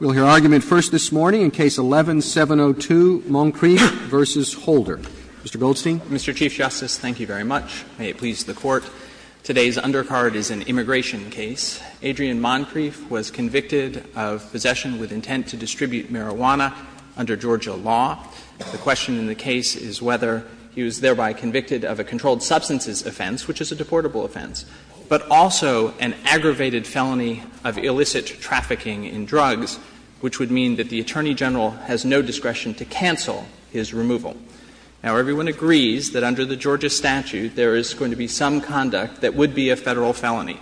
We'll hear argument first this morning in Case 11-702, Moncrieffe v. Holder. Mr. Goldstein. Mr. Chief Justice, thank you very much. May it please the Court. Today's undercard is an immigration case. Adrian Moncrieffe was convicted of possession with intent to distribute marijuana under Georgia law. The question in the case is whether he was thereby convicted of a controlled substances offense, which is a deportable offense, but also an aggravated felony of illicit trafficking in drugs, which would mean that the Attorney General has no discretion to cancel his removal. Now, everyone agrees that under the Georgia statute, there is going to be some conduct that would be a Federal felony.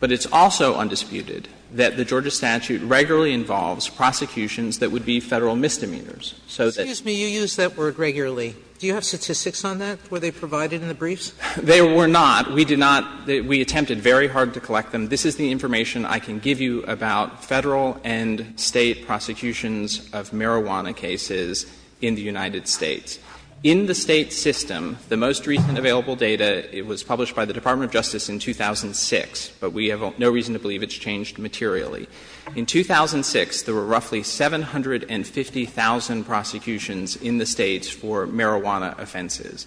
But it's also undisputed that the Georgia statute regularly involves prosecutions that would be Federal misdemeanors. So that's why I'm here. Sotomayor, you use that word regularly. Do you have statistics on that? Were they provided in the briefs? They were not. We did not. We attempted very hard to collect them. This is the information I can give you about Federal and State prosecutions of marijuana cases in the United States. In the State system, the most recent available data, it was published by the Department of Justice in 2006, but we have no reason to believe it's changed materially. In 2006, there were roughly 750,000 prosecutions in the States for marijuana offenses.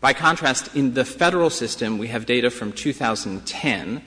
By contrast, in the Federal system, we have data from 2010,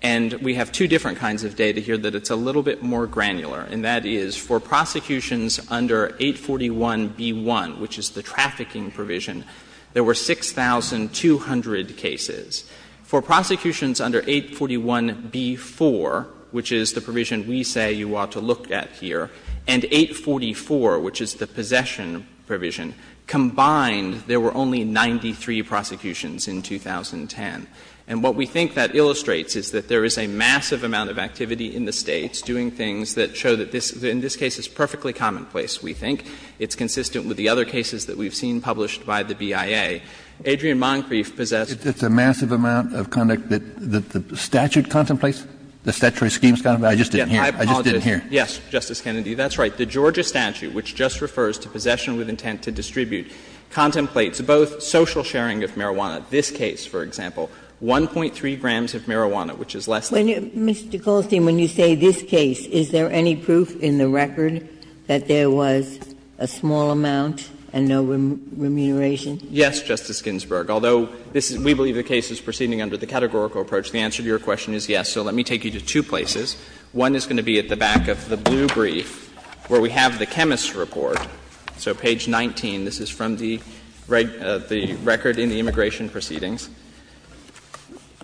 and we have two different kinds of data here that it's a little bit more granular, and that is for prosecutions under 841b1, which is the trafficking provision, there were 6,200 cases. For prosecutions under 841b4, which is the provision we say you ought to look at here, and 844, which is the possession provision, combined, there were only 6,200 cases and only 93 prosecutions in 2010. And what we think that illustrates is that there is a massive amount of activity in the States doing things that show that this, in this case, is perfectly commonplace, we think. It's consistent with the other cases that we've seen published by the BIA. Adrian Moncrief possessed. Kennedy, it's a massive amount of conduct that the statute contemplates? The statutory scheme contemplates? I just didn't hear. I just didn't hear. Yes, Justice Kennedy. That's right. The Georgia statute, which just refers to possession with intent to distribute, contemplates both social sharing of marijuana, this case, for example, 1.3 grams of marijuana, which is less than. Mr. Goldstein, when you say this case, is there any proof in the record that there was a small amount and no remuneration? Yes, Justice Ginsburg, although we believe the case is proceeding under the categorical approach, the answer to your question is yes. So let me take you to two places. One is going to be at the back of the blue brief where we have the chemist's report. So page 19, this is from the record in the immigration proceedings.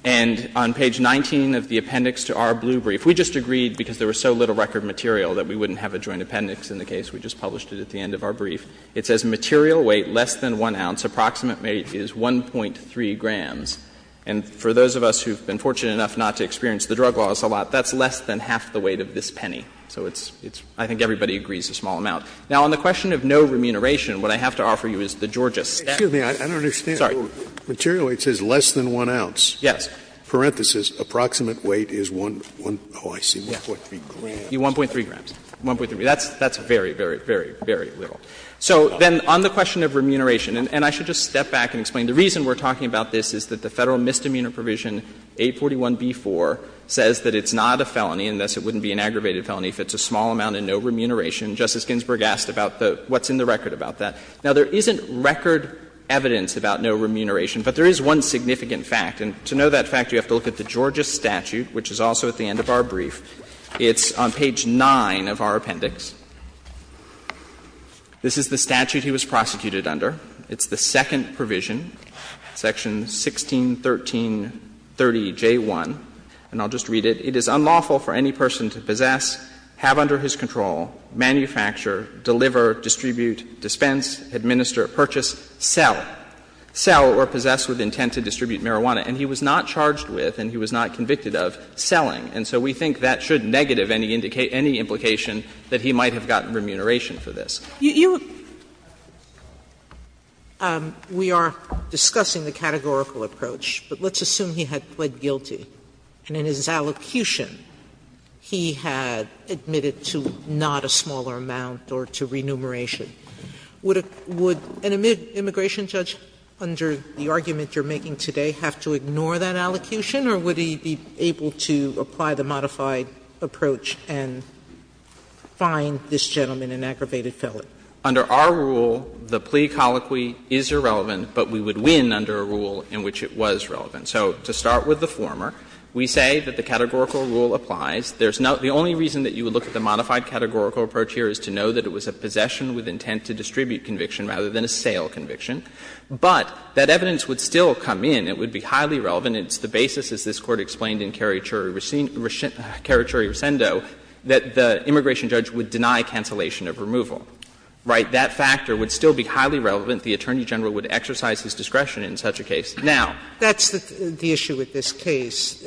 And on page 19 of the appendix to our blue brief, we just agreed because there was so little record material that we wouldn't have a joint appendix in the case. We just published it at the end of our brief. It says material weight less than 1 ounce, approximate weight is 1.3 grams. And for those of us who have been fortunate enough not to experience the drug laws a lot, that's less than half the weight of this penny. So it's — I think everybody agrees it's a small amount. Now, on the question of no remuneration, what I have to offer you is the Georgia statute. Scalia Excuse me. I don't understand. Material weight says less than 1 ounce. Yes. Parenthesis, approximate weight is 1.3 grams. 1.3 grams. That's very, very, very, very little. So then on the question of remuneration, and I should just step back and explain. The reason we're talking about this is that the Federal Misdemeanor Provision 841b4 says that it's not a felony unless it wouldn't be an aggravated felony if it's a small amount and no remuneration. Justice Ginsburg asked about the — what's in the record about that. Now, there isn't record evidence about no remuneration, but there is one significant fact. And to know that fact, you have to look at the Georgia statute, which is also at the end of our brief. It's on page 9 of our appendix. This is the statute he was prosecuted under. It's the second provision, section 161330j1, and I'll just read it. It is unlawful for any person to possess, have under his control, manufacture, deliver, distribute, dispense, administer, purchase, sell. Sell or possess with intent to distribute marijuana. And he was not charged with, and he was not convicted of, selling. And so we think that should negative any implication that he might have gotten remuneration for this. Sotomayor, we are discussing the categorical approach, but let's assume he had pled guilty, and in his allocution, he had admitted to not a smaller amount or to remuneration. Would an immigration judge, under the argument you're making today, have to ignore that allocution, or would he be able to apply the modified approach and find this gentleman an aggravated felon? Under our rule, the plea colloquy is irrelevant, but we would win under a rule in which it was relevant. So to start with the former, we say that the categorical rule applies. There's no — the only reason that you would look at the modified categorical approach here is to know that it was a possession with intent to distribute conviction rather than a sale conviction. But that evidence would still come in. It would be highly relevant. It's the basis, as this Court explained in Caricurri-Ricendo, that the immigration judge would deny cancellation of removal, right? That factor would still be highly relevant. The Attorney General would exercise his discretion in such a case. Now — Sotomayor, that's the issue with this case.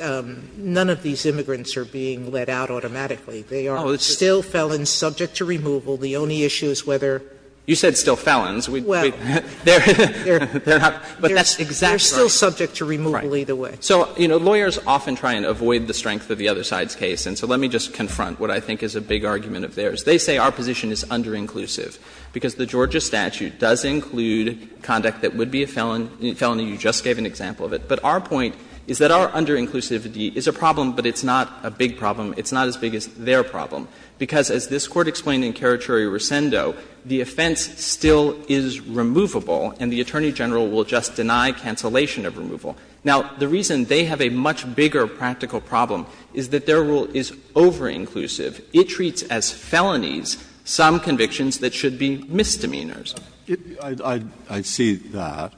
None of these immigrants are being let out automatically. They are still felons subject to removal. The only issue is whether — You said still felons. They're not — but that's exactly right. They're still subject to removal either way. So, you know, lawyers often try and avoid the strength of the other side's case. And so let me just confront what I think is a big argument of theirs. They say our position is underinclusive, because the Georgia statute does include conduct that would be a felony. You just gave an example of it. But our point is that our underinclusivity is a problem, but it's not a big problem. It's not as big as their problem, because as this Court explained in Caricurri-Ricendo, the offense still is removable, and the Attorney General will just deny cancellation of removal. Now, the reason they have a much bigger practical problem is that their rule is overinclusive. It treats as felonies some convictions that should be misdemeanors. Breyer. I see that.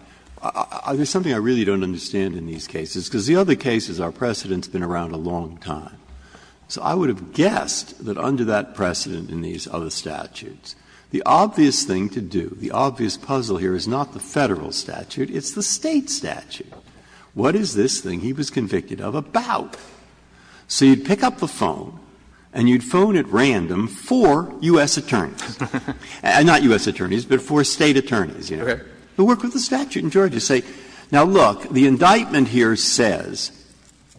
There's something I really don't understand in these cases, because the other cases our precedent's been around a long time. So I would have guessed that under that precedent in these other statutes, the obvious thing to do, the obvious puzzle here is not the Federal statute, it's the State statute. What is this thing he was convicted of about? So you'd pick up the phone and you'd phone at random four U.S. attorneys, not U.S. attorneys, but four State attorneys, you know, who work with the statute. And George would say, now, look, the indictment here says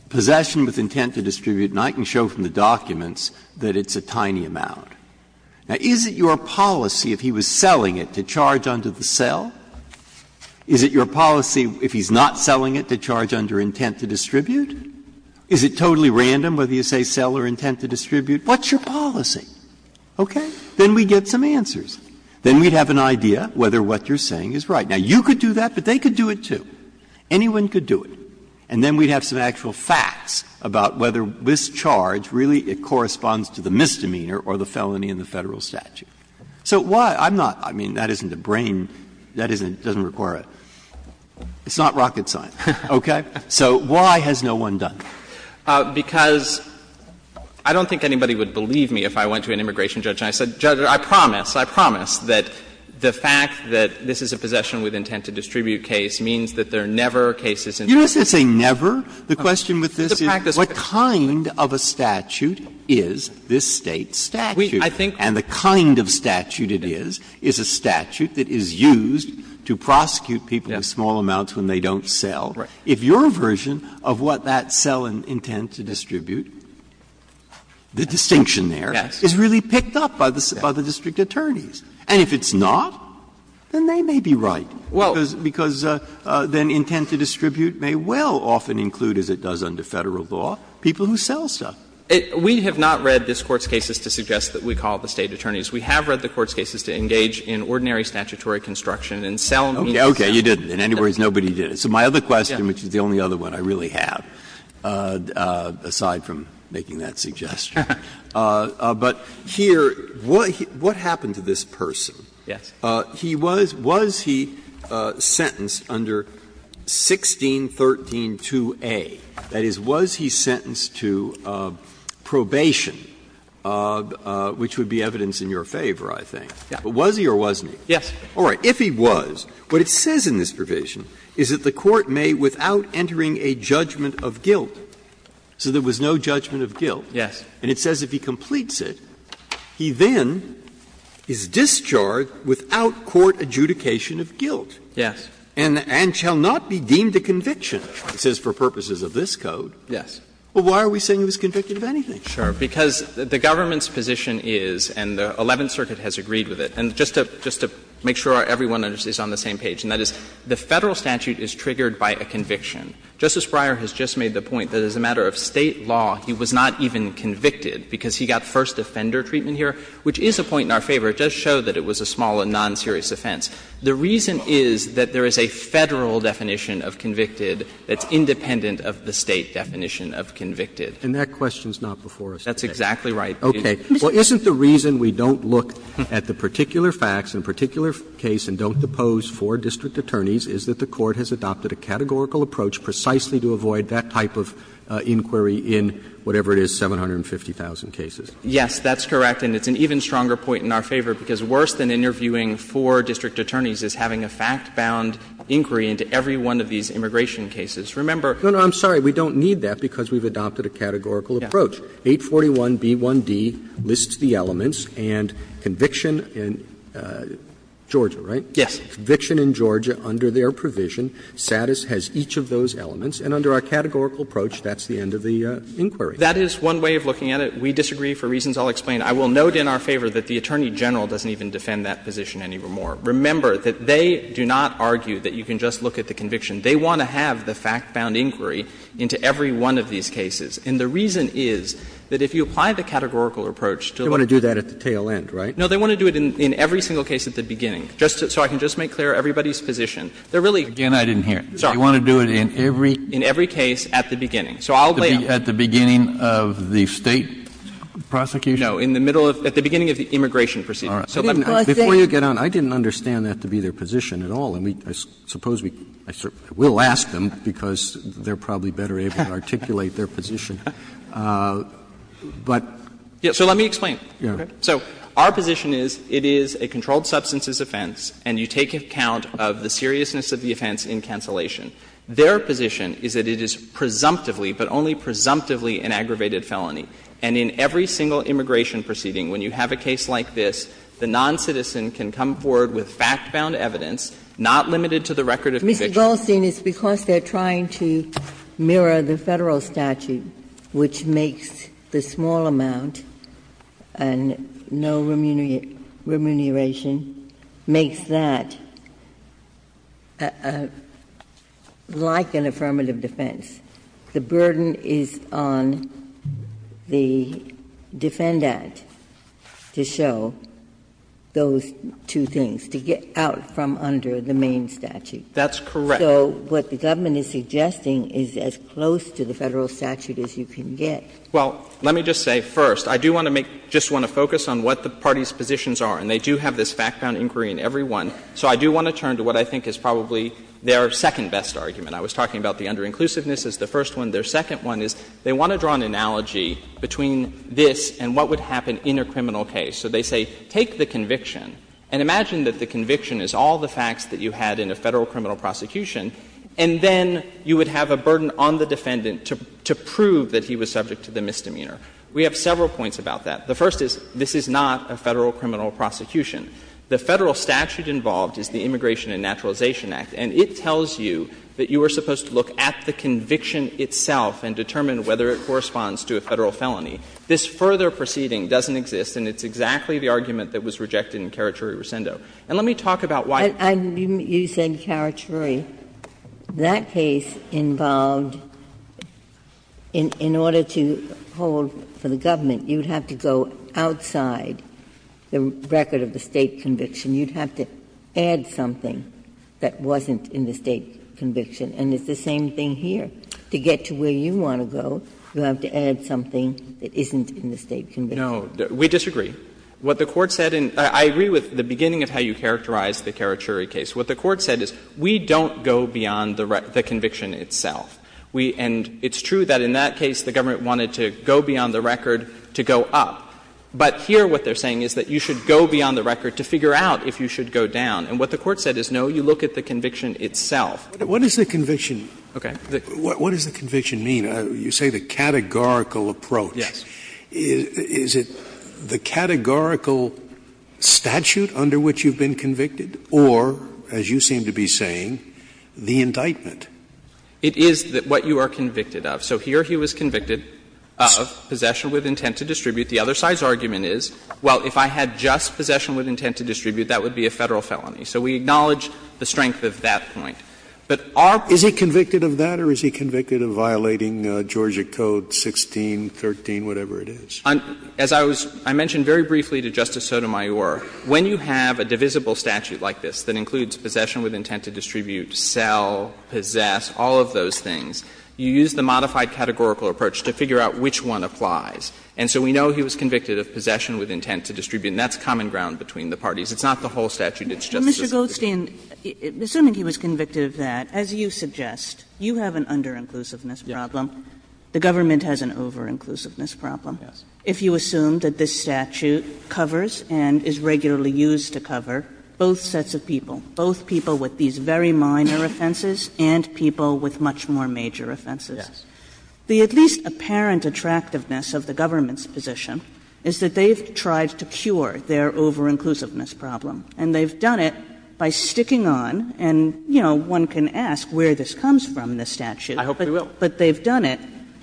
possession with intent to distribute, and I can show from the documents that it's a tiny amount. Now, is it your policy if he was selling it to charge under the sell? Is it your policy if he's not selling it to charge under intent to distribute? Is it totally random whether you say sell or intent to distribute? What's your policy? Okay. Then we'd get some answers. Then we'd have an idea whether what you're saying is right. Now, you could do that, but they could do it, too. Anyone could do it. And then we'd have some actual facts about whether this charge really corresponds to the misdemeanor or the felony in the Federal statute. So why? I'm not – I mean, that isn't a brain – that isn't – doesn't require a – it's not rocket science, okay? So why has no one done it? Goldstein, because I don't think anybody would believe me if I went to an immigration judge and I said, Judge, I promise. I promise that the fact that this is a possession with intent to distribute case means that there are never cases in this country. Breyer, the question with this is what kind of a statute is this State's statute? And the kind of statute it is is a statute that is used to prosecute people in small amounts when they don't sell. If your version of what that sell and intent to distribute, the distinction there, is really picked up by the district attorneys. And if it's not, then they may be right, because then intent to distribute may well often include, as it does under Federal law, people who sell stuff. We have not read this Court's cases to suggest that we call it the State attorneys. We have read the Court's cases to engage in ordinary statutory construction and sell means to sell. Okay. You didn't. In any words, nobody did it. So my other question, which is the only other one I really have, aside from making that suggestion, but here, what happened to this person? Yes. He was he sentenced under 16132a? That is, was he sentenced to probation, which would be evidence in your favor, I think. Yes. But was he or wasn't he? Yes. All right. If he was, what it says in this provision is that the Court may, without entering a judgment of guilt, so there was no judgment of guilt, and it says if he completes it, he then is discharged without court adjudication of guilt. Yes. And shall not be deemed a conviction, it says, for purposes of this Code. Yes. Well, why are we saying he was convicted of anything? Sure. Because the government's position is, and the Eleventh Circuit has agreed with it, and just to make sure everyone is on the same page, and that is, the Federal statute is triggered by a conviction. Justice Breyer has just made the point that as a matter of State law, he was not even convicted because he got first offender treatment here, which is a point in our favor. It does show that it was a small and non-serious offense. The reason is that there is a Federal definition of convicted that's independent of the State definition of convicted. And that question is not before us. That's exactly right. Okay. Well, isn't the reason we don't look at the particular facts in a particular case and don't depose four district attorneys is that the Court has adopted a categorical approach precisely to avoid that type of inquiry in whatever it is, 750,000 cases? Yes, that's correct. And it's an even stronger point in our favor, because worse than interviewing four district attorneys is having a fact-bound inquiry into every one of these immigration cases. Remember we don't need that because we've adopted a categorical approach. 841b1d lists the elements and conviction in Georgia, right? Yes. Conviction in Georgia under their provision. Status has each of those elements. And under our categorical approach, that's the end of the inquiry. That is one way of looking at it. We disagree for reasons I'll explain. I will note in our favor that the Attorney General doesn't even defend that position any more. Remember that they do not argue that you can just look at the conviction. They want to have the fact-bound inquiry into every one of these cases. And the reason is that if you apply the categorical approach to the one of the cases they want to do that at the tail end, right? No, they want to do it in every single case at the beginning, just so I can just make clear everybody's position. They're really. Again, I didn't hear. Sorry. You want to do it in every? In every case at the beginning. So I'll lay out. At the beginning of the State prosecution? No, in the middle of the beginning of the immigration proceedings. All right. Before you get on, I didn't understand that to be their position at all. And I suppose we will ask them because they're probably better able to articulate their position. But. So let me explain. So our position is it is a controlled substances offense and you take account of the seriousness of the offense in cancellation. Their position is that it is presumptively, but only presumptively, an aggravated felony. And in every single immigration proceeding, when you have a case like this, the noncitizen can come forward with fact-bound evidence not limited to the record of conviction. Mr. Goldstein, it's because they're trying to mirror the Federal statute, which makes the small amount and no remuneration, makes that like an affirmative defense. The burden is on the defendant to show those two things, to get out from under the main statute. That's correct. So what the government is suggesting is as close to the Federal statute as you can get. Well, let me just say first, I do want to make — just want to focus on what the party's positions are. And they do have this fact-bound inquiry in every one. So I do want to turn to what I think is probably their second-best argument. I was talking about the underinclusiveness as the first one. Their second one is they want to draw an analogy between this and what would happen in a criminal case. So they say, take the conviction and imagine that the conviction is all the facts that you had in a Federal criminal prosecution, and then you would have a burden on the defendant to prove that he was subject to the misdemeanor. We have several points about that. The first is, this is not a Federal criminal prosecution. The Federal statute involved is the Immigration and Naturalization Act, and it tells you that you are supposed to look at the conviction itself and determine whether it corresponds to a Federal felony. This further proceeding doesn't exist, and it's exactly the argument that was rejected in Kerachuri-Rosendo. And let me talk about why — Ginsburg. You said Kerachuri. That case involved, in order to hold for the government, you would have to go outside the record of the State conviction. You would have to add something that wasn't in the State conviction. And it's the same thing here. To get to where you want to go, you have to add something that isn't in the State conviction. No. We disagree. What the Court said in — I agree with the beginning of how you characterized the Kerachuri case. What the Court said is, we don't go beyond the conviction itself. We — and it's true that in that case, the government wanted to go beyond the record to go up. But here what they're saying is that you should go beyond the record to figure out if you should go down. And what the Court said is, no, you look at the conviction itself. Scalia, what does the conviction mean? You say the categorical approach. Yes. Is it the categorical statute under which you've been convicted or, as you seem to be saying, the indictment? It is what you are convicted of. So here he was convicted of possession with intent to distribute. The other side's argument is, well, if I had just possession with intent to distribute, that would be a Federal felony. So we acknowledge the strength of that point. But the point is, if I had just possession with intent to distribute, and I did possess possession of a particular item, I could have just said, well, I don't know, whatever it is. As I was — I mentioned very briefly to Justice Sotomayor, when you have a divisible statute like this that includes possession with intent to distribute, sell, possess, all of those things, you use the modified categorical approach to figure out which one applies. And so we know he was convicted of possession with intent to distribute, and that's common ground between the parties. It's not the whole statute, it's just the subdivision. Kagan, assuming he was convicted of that, as you suggest, you have an under-inclusiveness problem. The government has an over-inclusiveness problem. If you assume that this statute covers and is regularly used to cover both sets of people, both people with these very minor offenses and people with much more major offenses, the at least apparent attractiveness of the government's position is that they've tried to cure their over-inclusiveness problem, and they've done it by sticking on, and, you know, one can ask where this comes from, this statute. I hope we will. But they've done it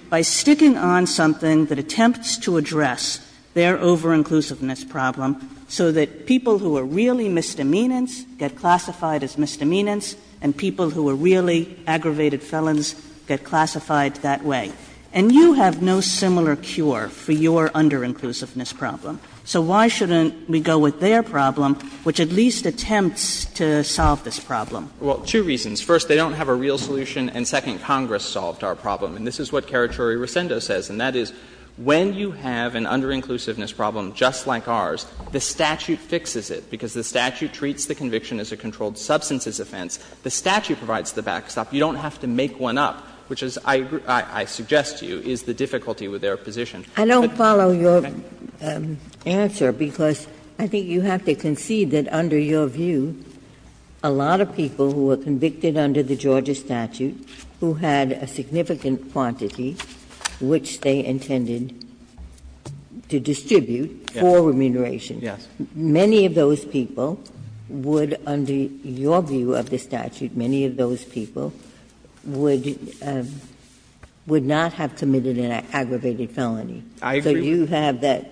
by sticking on something that attempts to address their over-inclusiveness problem so that people who are really misdemeanants get classified as misdemeanants and people who are really aggravated felons get classified that way. And you have no similar cure for your under-inclusiveness problem. So why shouldn't we go with their problem, which at least attempts to solve this problem? Well, two reasons. First, they don't have a real solution, and second, Congress solved our problem. And this is what Kerachuri-Rosendo says, and that is when you have an under-inclusiveness problem just like ours, the statute fixes it because the statute treats the conviction as a controlled substances offense. The statute provides the backstop. You don't have to make one up, which is, I suggest to you, is the difficulty with their position. I don't follow your answer because I think you have to concede that under your view, a lot of people who were convicted under the Georgia statute who had a significant quantity, which they intended to distribute for remuneration, many of those people would, under your view of the statute, many of those people would not have committed an aggravated felony. I agree. So you have that.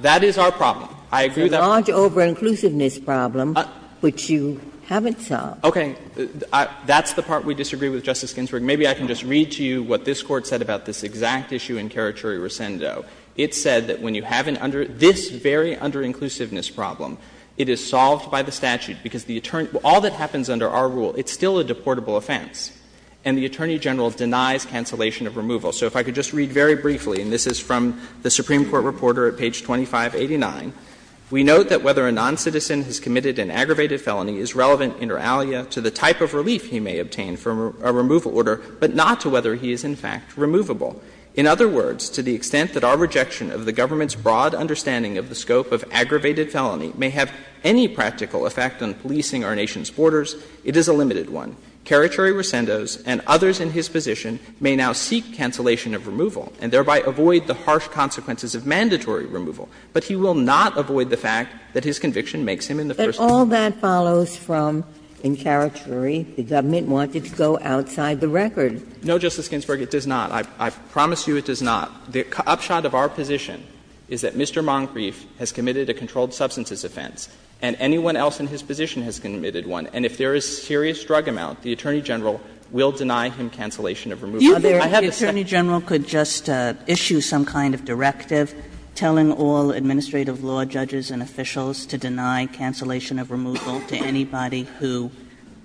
That is our problem. I agree that. It's a large over-inclusiveness problem, which you haven't solved. Okay. That's the part we disagree with, Justice Ginsburg. Maybe I can just read to you what this Court said about this exact issue in Kerachuri-Rosendo. It said that when you have an under — this very under-inclusiveness problem, it is solved by the statute because the attorney — all that happens under our rule, it's still a deportable offense. And the attorney general denies cancellation of removal. So if I could just read very briefly, and this is from the Supreme Court reporter at page 2589, we note that whether a noncitizen has committed an aggravated felony is relevant, inter alia, to the type of relief he may obtain from a removal order, but not to whether he is, in fact, removable. In other words, to the extent that our rejection of the government's broad understanding of the scope of aggravated felony may have any practical effect on policing our nation's borders, it is a limited one. Kerachuri-Rosendo and others in his position may now seek cancellation of removal and thereby avoid the harsh consequences of mandatory removal, but he will not avoid the fact that his conviction makes him in the first place. Ginsburg. But all that follows from, in Kerachuri, the government wanted to go outside the record. No, Justice Ginsburg, it does not. I promise you it does not. The upshot of our position is that Mr. Moncrief has committed a controlled substances offense, and anyone else in his position has committed one. And if there is serious drug amount, the Attorney General will deny him cancellation of removal. Kagan. The Attorney General could just issue some kind of directive telling all administrative law judges and officials to deny cancellation of removal to anybody who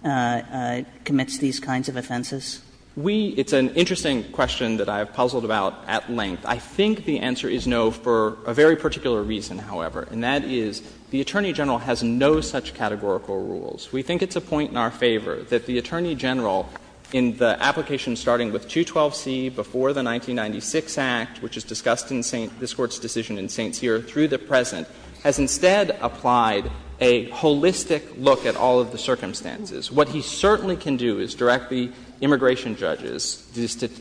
commits these kinds of offenses? We – it's an interesting question that I have puzzled about at length. I think the answer is no for a very particular reason, however, and that is the Attorney General has no such categorical rules. We think it's a point in our favor that the Attorney General, in the application starting with 212c before the 1996 Act, which is discussed in this Court's decision in St. Cyr, through the present, has instead applied a holistic look at all of the circumstances. What he certainly can do is direct the immigration judges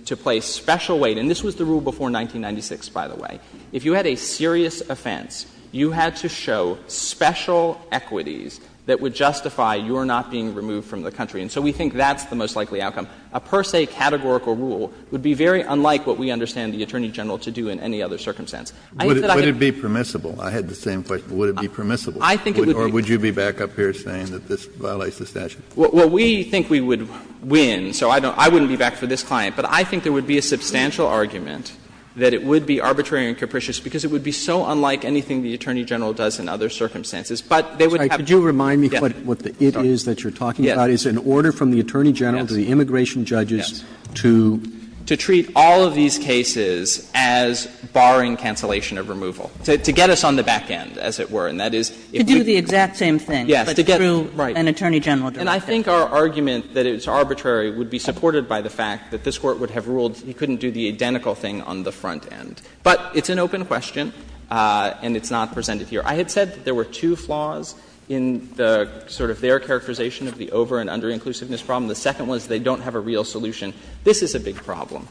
to place special weight – and this was the rule before 1996, by the way. If you had a serious offense, you had to show special equities that would justify your not being removed from the country. And so we think that's the most likely outcome. A per se categorical rule would be very unlike what we understand the Attorney General to do in any other circumstance. I think that I can be— Would it be permissible? I had the same question. Would it be permissible? I think it would be— Or would you be back up here saying that this violates the statute? Well, we think we would win, so I don't – I wouldn't be back for this client. But I think there would be a substantial argument that it would be arbitrary and capricious, because it would be so unlike anything the Attorney General does in other circumstances. But they would have— But what it is that you're talking about is an order from the Attorney General to the immigration judges to— Yes. To treat all of these cases as barring cancellation of removal, to get us on the back end, as it were, and that is if we— To do the exact same thing, but through an Attorney General direction. And I think our argument that it's arbitrary would be supported by the fact that this Court would have ruled he couldn't do the identical thing on the front end. But it's an open question, and it's not presented here. I had said that there were two flaws in the sort of their characterization of the over- and under-inclusiveness problem. The second was they don't have a real solution. This is a big problem.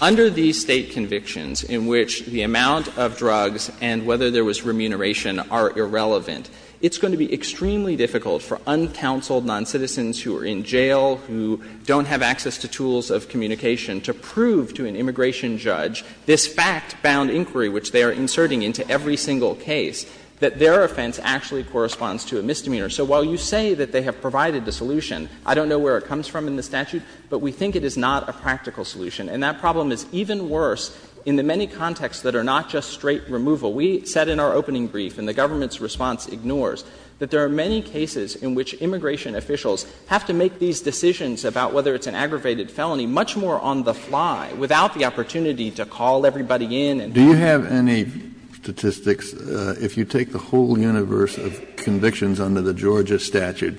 Under these State convictions in which the amount of drugs and whether there was remuneration are irrelevant, it's going to be extremely difficult for uncounseled noncitizens who are in jail, who don't have access to tools of communication to prove to an immigration judge this fact-bound inquiry which they are inserting into every single case, that their offense actually corresponds to a misdemeanor. So while you say that they have provided the solution, I don't know where it comes from in the statute, but we think it is not a practical solution. And that problem is even worse in the many contexts that are not just straight removal. We said in our opening brief, and the government's response ignores, that there are many cases in which immigration officials have to make these decisions about whether it's an aggravated felony much more on the fly, without the opportunity to call everybody in and— Kennedy. Do you have any statistics, if you take the whole universe of convictions under the Georgia statute,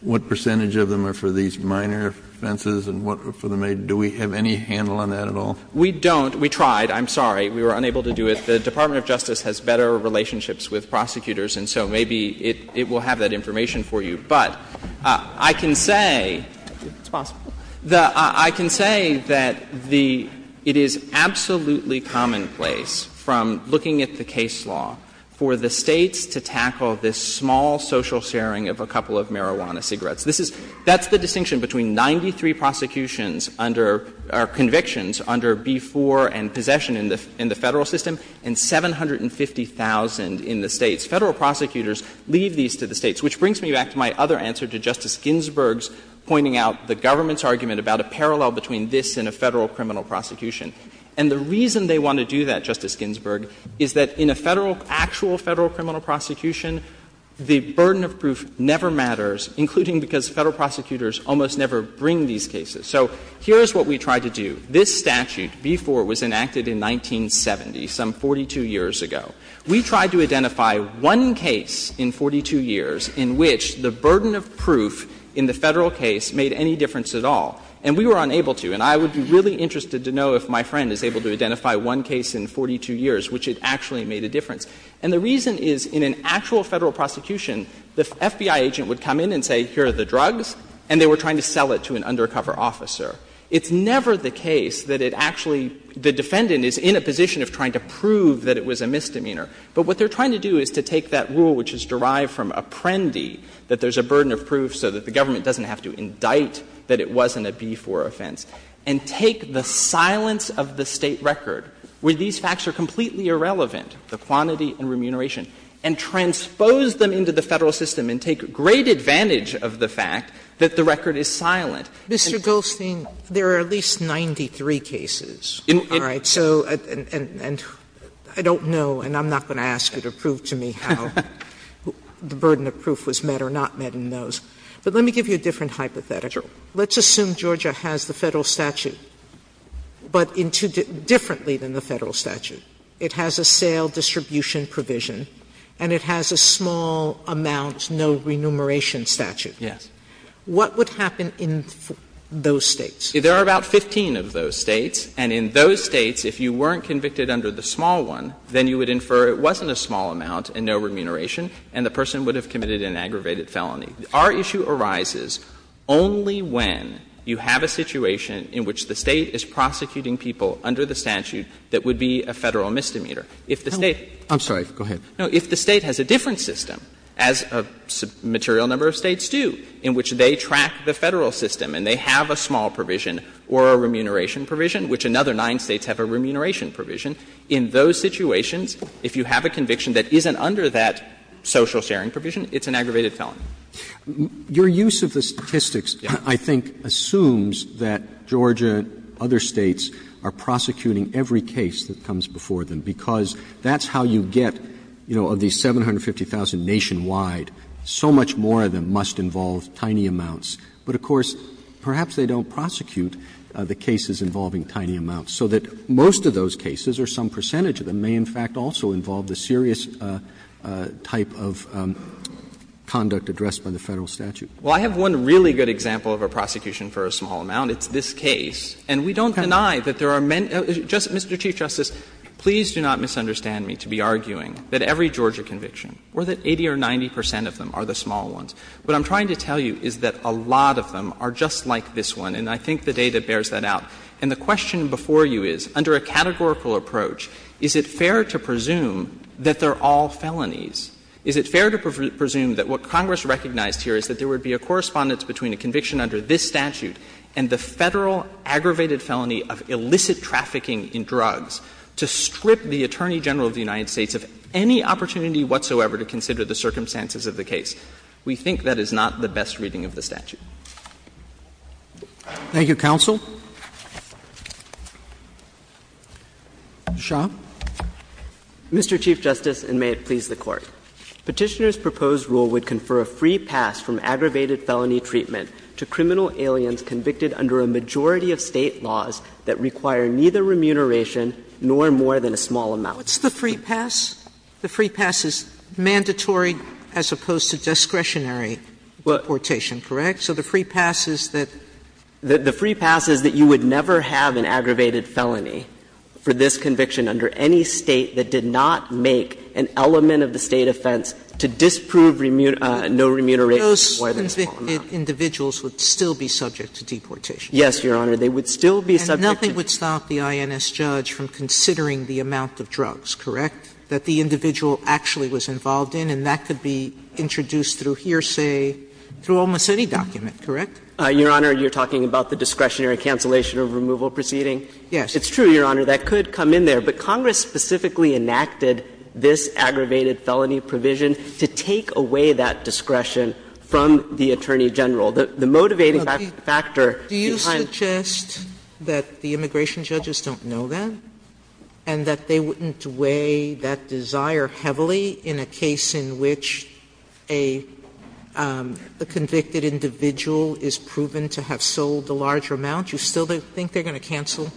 what percentage of them are for these minor offenses and what for the major? Do we have any handle on that at all? We don't. We tried. I'm sorry. We were unable to do it. The Department of Justice has better relationships with prosecutors, and so maybe it will have that information for you. But I can say— It's possible. I can say that the — it is absolutely commonplace, from looking at the case law, for the States to tackle this small social sharing of a couple of marijuana cigarettes. This is — that's the distinction between 93 prosecutions under — or convictions under B-4 and possession in the Federal system and 750,000 in the States. Federal prosecutors leave these to the States, which brings me back to my other answer to Justice Ginsburg's pointing out the government's argument about a parallel between this and a Federal criminal prosecution. And the reason they want to do that, Justice Ginsburg, is that in a Federal — actual Federal criminal prosecution, the burden of proof never matters, including because Federal prosecutors almost never bring these cases. So here is what we tried to do. This statute, B-4, was enacted in 1970, some 42 years ago. We tried to identify one case in 42 years in which the burden of proof in the Federal case made any difference at all. And we were unable to. And I would be really interested to know if my friend is able to identify one case in 42 years which it actually made a difference. And the reason is, in an actual Federal prosecution, the FBI agent would come in and say, here are the drugs, and they were trying to sell it to an undercover officer. It's never the case that it actually — the defendant is in a position of trying to prove that it was a misdemeanor. But what they're trying to do is to take that rule which is derived from Apprendi, that there's a burden of proof so that the government doesn't have to indict that it wasn't a B-4 offense, and take the silence of the State record, where these facts are completely irrelevant, the quantity and remuneration, and transpose them into the Federal system and take great advantage of the fact that the record is silent. And so — Sotomayor, I don't know, and I'm not going to ask you to prove to me how the burden of proof was met or not met in those. But let me give you a different hypothetical. Let's assume Georgia has the Federal statute, but differently than the Federal statute. It has a sale distribution provision, and it has a small amount, no remuneration statute. Yes. What would happen in those States? There are about 15 of those States, and in those States, if you weren't convicted under the small one, then you would infer it wasn't a small amount and no remuneration, and the person would have committed an aggravated felony. Our issue arises only when you have a situation in which the State is prosecuting people under the statute that would be a Federal misdemeanor. If the State — I'm sorry. Go ahead. No. If the State has a different system, as a material number of States do, in which they track the Federal system and they have a small provision or a remuneration provision, which another nine States have a remuneration provision, in those situations, if you have a conviction that isn't under that social sharing provision, it's an aggravated felony. Your use of the statistics, I think, assumes that Georgia and other States are prosecuting every case that comes before them, because that's how you get, you know, of these 750,000 nationwide, so much more of them must involve tiny amounts. But, of course, perhaps they don't prosecute the cases involving tiny amounts. So that most of those cases or some percentage of them may, in fact, also involve the serious type of conduct addressed by the Federal statute. Well, I have one really good example of a prosecution for a small amount. It's this case. And we don't deny that there are many — Mr. Chief Justice, please do not misunderstand me to be arguing that every Georgia conviction or that 80 or 90 percent of them are the small ones. What I'm trying to tell you is that a lot of them are just like this one, and I think the data bears that out. And the question before you is, under a categorical approach, is it fair to presume that they're all felonies? Is it fair to presume that what Congress recognized here is that there would be a correspondence between a conviction under this statute and the Federal aggravated felony of illicit trafficking in drugs to strip the Attorney General of the United States of any opportunity whatsoever to consider the circumstances of the case? We think that is not the best reading of the statute. Thank you, counsel. Shah. Mr. Chief Justice, and may it please the Court. Petitioner's proposed rule would confer a free pass from aggravated felony treatment to criminal aliens convicted under a majority of State laws that require neither remuneration nor more than a small amount. What's the free pass? The free pass is mandatory as opposed to discretionary deportation, correct? So the free pass is that? The free pass is that you would never have an aggravated felony for this conviction under any State that did not make an element of the State offense to disprove no remuneration or a small amount. Those convicted individuals would still be subject to deportation? Yes, Your Honor. They would still be subject to deportation. And nothing would stop the INS judge from considering the amount of drugs, correct, that the individual actually was involved in, and that could be introduced through hearsay through almost any document, correct? Your Honor, you're talking about the discretionary cancellation of removal proceeding? Yes. It's true, Your Honor, that could come in there. But Congress specifically enacted this aggravated felony provision to take away that discretion from the Attorney General. The motivating factor behind the discretionary cancellation of a remuneration would be that desire heavily in a case in which a convicted individual is proven to have sold a large amount, you still think they're going to cancel?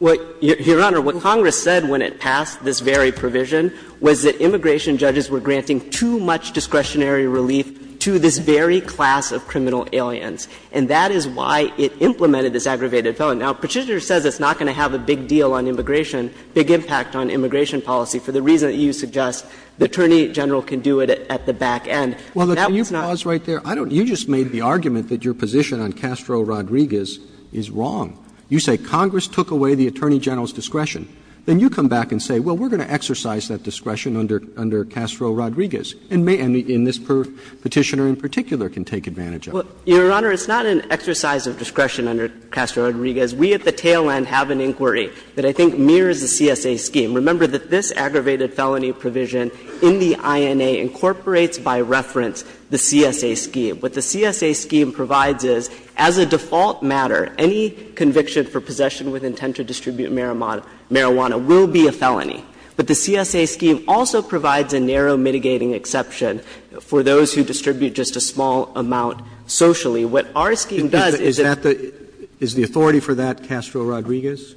Your Honor, what Congress said when it passed this very provision was that immigration judges were granting too much discretionary relief to this very class of criminal aliens, and that is why it implemented this aggravated felony. Now, Petitioner says it's not going to have a big deal on immigration, big impact on immigration policy, for the reason that you suggest the Attorney General can do it at the back end. Well, can you pause right there? You just made the argument that your position on Castro-Rodriguez is wrong. You say Congress took away the Attorney General's discretion. Then you come back and say, well, we're going to exercise that discretion under Castro-Rodriguez, and this Petitioner in particular can take advantage of it. Your Honor, it's not an exercise of discretion under Castro-Rodriguez. We at the tail end have an inquiry that I think mirrors the CSA scheme. Remember that this aggravated felony provision in the INA incorporates by reference the CSA scheme. What the CSA scheme provides is, as a default matter, any conviction for possession with intent to distribute marijuana will be a felony. But the CSA scheme also provides a narrow mitigating exception for those who distribute just a small amount socially. What our scheme does is that the – Is the authority for that Castro-Rodriguez?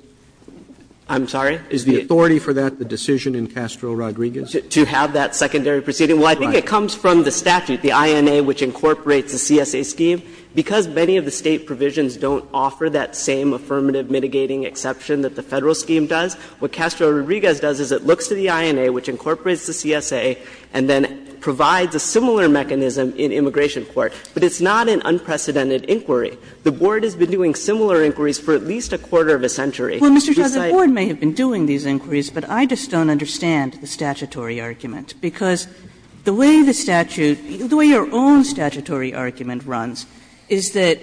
I'm sorry? Is the authority for that the decision in Castro-Rodriguez? To have that secondary proceeding? Well, I think it comes from the statute, the INA, which incorporates the CSA scheme. Because many of the State provisions don't offer that same affirmative mitigating exception that the Federal scheme does, what Castro-Rodriguez does is it looks to the INA, which incorporates the CSA, and then provides a similar mechanism in immigration court. But it's not an unprecedented inquiry. The Board has been doing similar inquiries for at least a quarter of a century. Well, Mr. Shah, the Board may have been doing these inquiries, but I just don't understand the statutory argument. Because the way the statute – the way your own statutory argument runs is that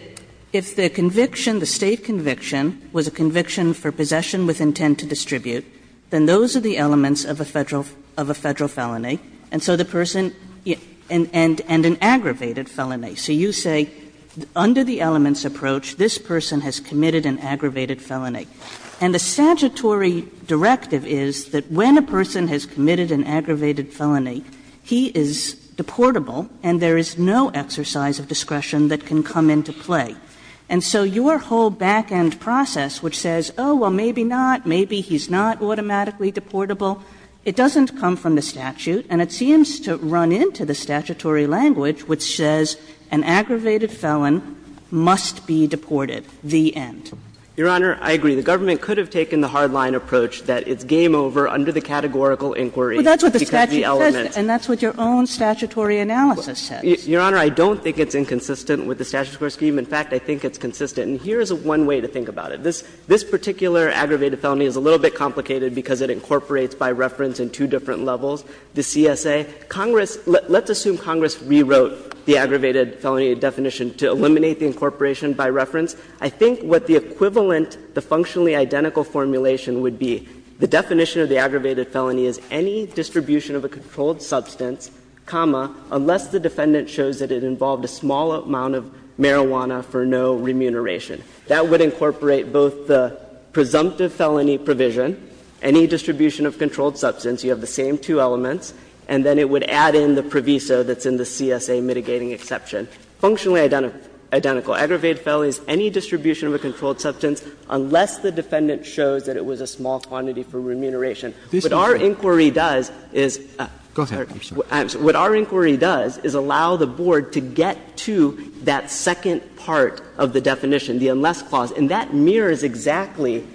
if the conviction, the State conviction, was a conviction for possession with intent to distribute, then those are the elements of a Federal – of a Federal felony, and so the person – and an aggravated felony. So you say under the elements approach, this person has committed an aggravated felony. And the statutory directive is that when a person has committed an aggravated felony, he is deportable and there is no exercise of discretion that can come into play. And so your whole back-end process, which says, oh, well, maybe not, maybe he's not automatically deportable, it doesn't come from the statute, and it seems to run into the statutory language, which says an aggravated felon must be deported. The end. Your Honor, I agree. The government could have taken the hard-line approach that it's game over under the categorical inquiry because of the elements. Well, that's what the statute says, and that's what your own statutory analysis says. Your Honor, I don't think it's inconsistent with the statutory scheme. In fact, I think it's consistent. And here is one way to think about it. This particular aggravated felony is a little bit complicated because it incorporates by reference in two different levels. The CSA, Congress — let's assume Congress rewrote the aggravated felony definition to eliminate the incorporation by reference. I think what the equivalent, the functionally identical formulation would be, the definition of the aggravated felony is any distribution of a controlled substance, comma, unless the defendant shows that it involved a small amount of marijuana for no remuneration. That would incorporate both the presumptive felony provision, any distribution of controlled substance, you have the same two elements, and then it would add in the proviso that's in the CSA mitigating exception. Functionally identical. Aggravated felony is any distribution of a controlled substance unless the defendant shows that it was a small quantity for remuneration. What our inquiry does is — Roberts. Go ahead. I'm sorry. What our inquiry does is allow the Board to get to that second part of the definition, the unless clause. And that mirrors exactly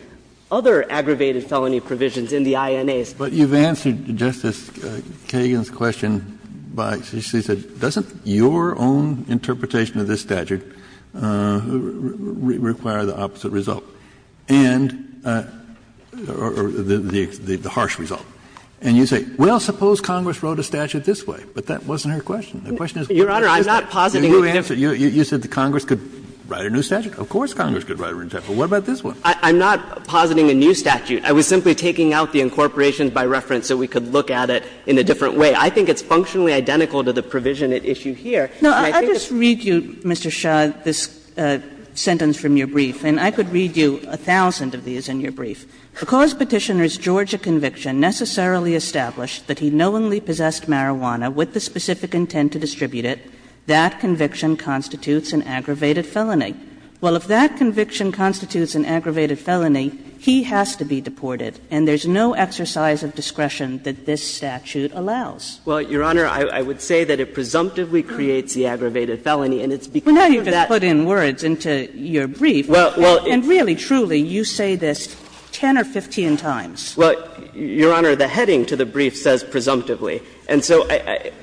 other aggravated felony provisions in the INAs. But you've answered Justice Kagan's question by — she said, doesn't your own interpretation of this statute require the opposite result and — or the harsh result? And you say, well, suppose Congress wrote a statute this way. But that wasn't her question. The question is, what does it say? Your Honor, I'm not positing a different— You said Congress could write a new statute. Of course Congress could write a new statute. But what about this one? I'm not positing a new statute. I was simply taking out the incorporations by reference so we could look at it in a different way. I think it's functionally identical to the provision at issue here. And I think it's— No, I'll just read you, Mr. Shah, this sentence from your brief. And I could read you a thousand of these in your brief. Because Petitioner's Georgia conviction necessarily established that he knowingly possessed marijuana with the specific intent to distribute it, that conviction constitutes an aggravated felony. Well, if that conviction constitutes an aggravated felony, he has to be deported. And there's no exercise of discretion that this statute allows. Well, Your Honor, I would say that it presumptively creates the aggravated felony, and it's because of that— Well, now you've just put in words into your brief. Well, well— And really, truly, you say this 10 or 15 times. Well, Your Honor, the heading to the brief says presumptively. And so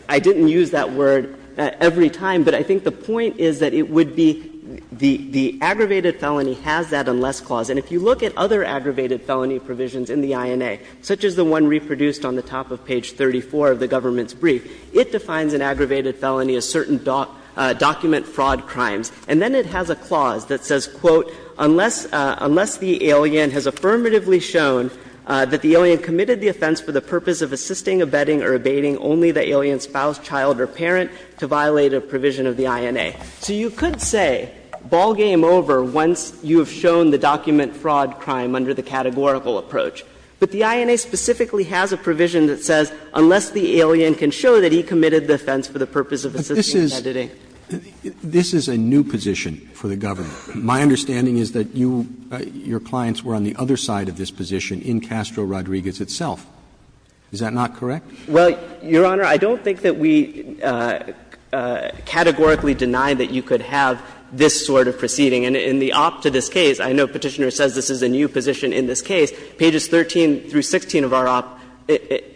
I didn't use that word every time. But I think the point is that it would be the aggravated felony has that unless clause. And if you look at other aggravated felony provisions in the INA, such as the one reproduced on the top of page 34 of the government's brief, it defines an aggravated felony as certain document fraud crimes. And then it has a clause that says, quote, unless the alien has affirmatively shown that the alien committed the offense for the purpose of assisting, abetting, or abating only the alien spouse, child, or parent, to violate a provision of the INA. So you could say ball game over once you have shown the document fraud crime under the categorical approach. But the INA specifically has a provision that says unless the alien can show that he committed the offense for the purpose of assisting, abetting. But this is a new position for the government. My understanding is that you — your clients were on the other side of this position in Castro Rodriguez itself. Is that not correct? Well, Your Honor, I don't think that we categorically deny that you could have this sort of proceeding. And in the opt to this case, I know Petitioner says this is a new position in this case, pages 13 through 16 of our op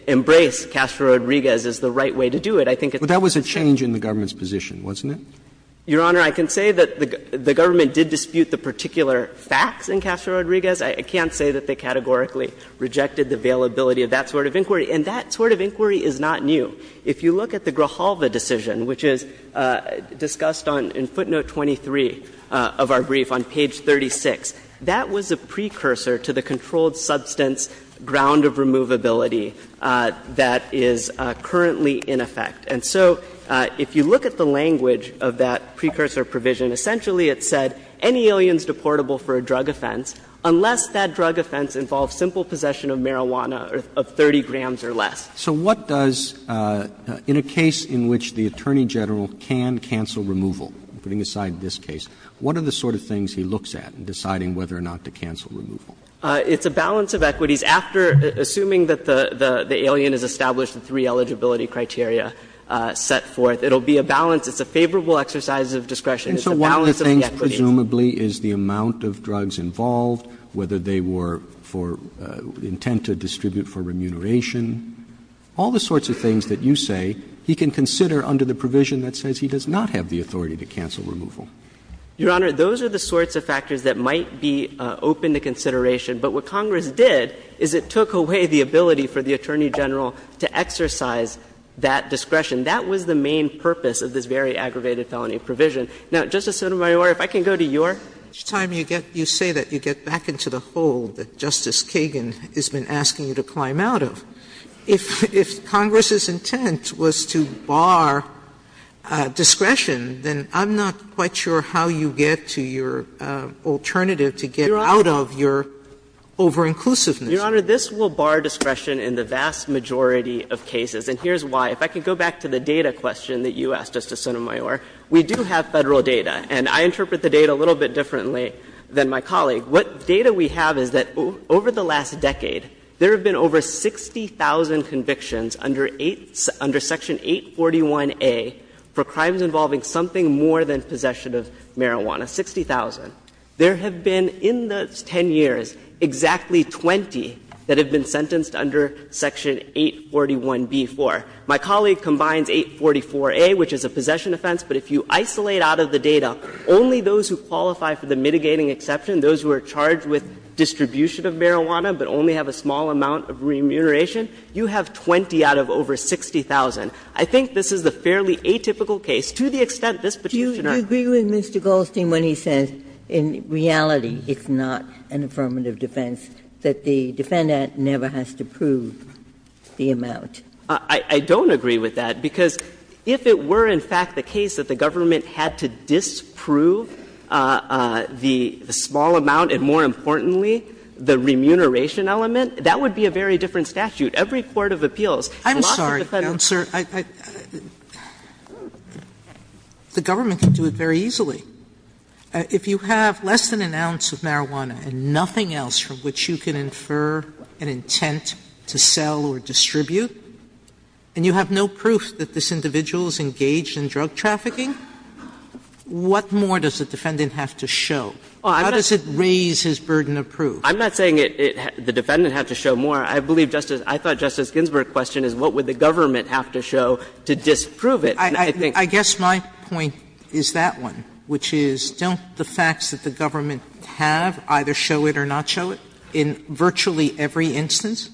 embrace Castro Rodriguez as the right way to do it. I think it's the same. But that was a change in the government's position, wasn't it? Your Honor, I can say that the government did dispute the particular facts in Castro Rodriguez. I can't say that they categorically rejected the availability of that sort of inquiry. And that sort of inquiry is not new. If you look at the Grojalva decision, which is discussed on — in footnote 23 of our brief on page 36, that was a precursor to the controlled substance ground of removability that is currently in effect. And so if you look at the language of that precursor provision, essentially it said any aliens deportable for a drug offense, unless that drug offense involves a simple possession of marijuana of 30 grams or less. Roberts. So what does — in a case in which the Attorney General can cancel removal, putting aside this case, what are the sort of things he looks at in deciding whether or not to cancel removal? It's a balance of equities. After assuming that the alien has established the three eligibility criteria set forth, it will be a balance. It's a favorable exercise of discretion. It's a balance of the equities. Roberts. Presumably is the amount of drugs involved, whether they were for intent to distribute for remuneration, all the sorts of things that you say he can consider under the provision that says he does not have the authority to cancel removal. Your Honor, those are the sorts of factors that might be open to consideration. But what Congress did is it took away the ability for the Attorney General to exercise that discretion. That was the main purpose of this very aggravated felony provision. Now, Justice Sotomayor, if I can go to your case. Sotomayor Each time you say that, you get back into the hole that Justice Kagan has been asking you to climb out of. If Congress's intent was to barre discretion, then I'm not quite sure how you get to your alternative to get out of your over-inclusiveness. Your Honor, this will barre discretion in the vast majority of cases, and here's why. If I can go back to the data question that you asked, Justice Sotomayor, we do have Federal data, and I interpret the data a little bit differently than my colleague. What data we have is that over the last decade, there have been over 60,000 convictions under 8 — under Section 841A for crimes involving something more than possession of marijuana, 60,000. There have been, in those 10 years, exactly 20 that have been sentenced under Section 841B for. My colleague combines 844A, which is a possession offense, but if you isolate out of the data only those who qualify for the mitigating exception, those who are charged with distribution of marijuana but only have a small amount of remuneration, you have 20 out of over 60,000. I think this is a fairly atypical case, to the extent this Petitioner Ginsburg Do you agree with Mr. Goldstein when he says in reality it's not an affirmative defense, that the defendant never has to prove the amount? I don't agree with that, because if it were, in fact, the case that the government had to disprove the small amount and, more importantly, the remuneration element, that would be a very different statute. Every court of appeals, lots of the Federal courts I'm sorry, Counselor. The government can do it very easily. If you have less than an ounce of marijuana and nothing else from which you can infer an intent to sell or distribute, and you have no proof that this individual is engaged in drug trafficking, what more does the defendant have to show? How does it raise his burden of proof? I'm not saying the defendant had to show more. I believe Justice — I thought Justice Ginsburg's question is what would the government have to show to disprove it. Sotomayor, I guess my point is that one, which is, don't the facts that the government have either show it or not show it in virtually every instance?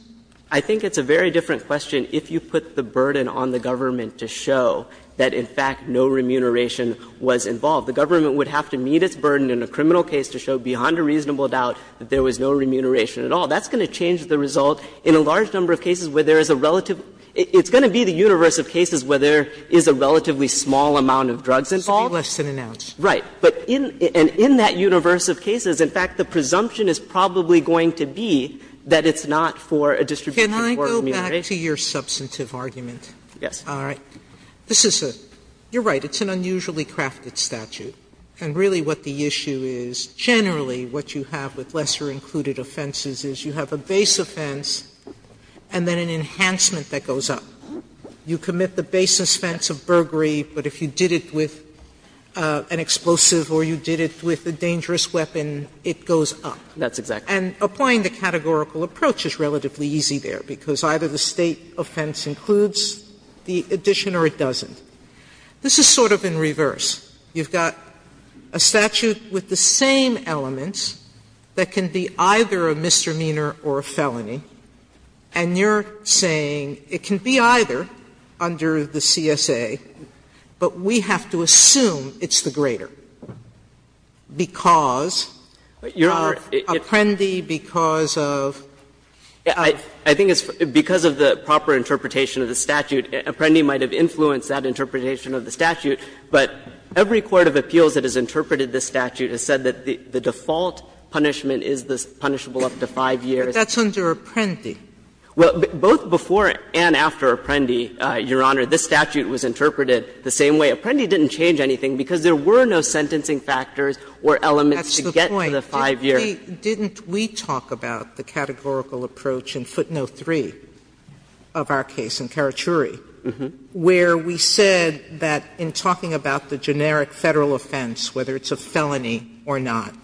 I think it's a very different question if you put the burden on the government to show that, in fact, no remuneration was involved. The government would have to meet its burden in a criminal case to show beyond a reasonable doubt that there was no remuneration at all. That's going to change the result in a large number of cases where there is a relative — it's going to be the universe of cases where there is a relatively small amount of drugs involved. Sotomayor, right. And in that universe of cases, in fact, the presumption is probably going to be that it's not for a distribution or remuneration. Sotomayor, can I go back to your substantive argument? Yes. All right. This is a — you're right, it's an unusually crafted statute. And really what the issue is, generally, what you have with lesser included offenses is you have a base offense and then an enhancement that goes up. You commit the basis offense of burglary, but if you did it with an explosive or you did it with a dangerous weapon, it goes up. That's exactly right. And applying the categorical approach is relatively easy there, because either the State offense includes the addition or it doesn't. This is sort of in reverse. You've got a statute with the same elements that can be either a misdemeanor or a felony, and you're saying it can be either under the CSA, but we have to assume it's the greater, because of Apprendi, because of the proper interpretation of the statute, Apprendi might have influenced that interpretation of the statute, but every court of appeals that has interpreted this statute has said that the default punishment is punishable up to 5 years. But that's under Apprendi. Well, both before and after Apprendi, Your Honor, this statute was interpreted the same way. Apprendi didn't change anything, because there were no sentencing factors or elements to get to the 5-year. That's the point. Didn't we talk about the categorical approach in footnote 3 of our case in Karachuri, where we said that in talking about the generic Federal offense, whether it's a felony or not,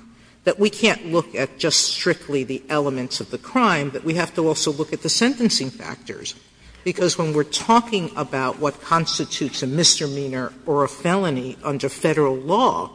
that we can't look at just strictly the elements of the crime, that we have to also look at the sentencing factors, because when we're talking about what constitutes a misdemeanor or a felony under Federal law,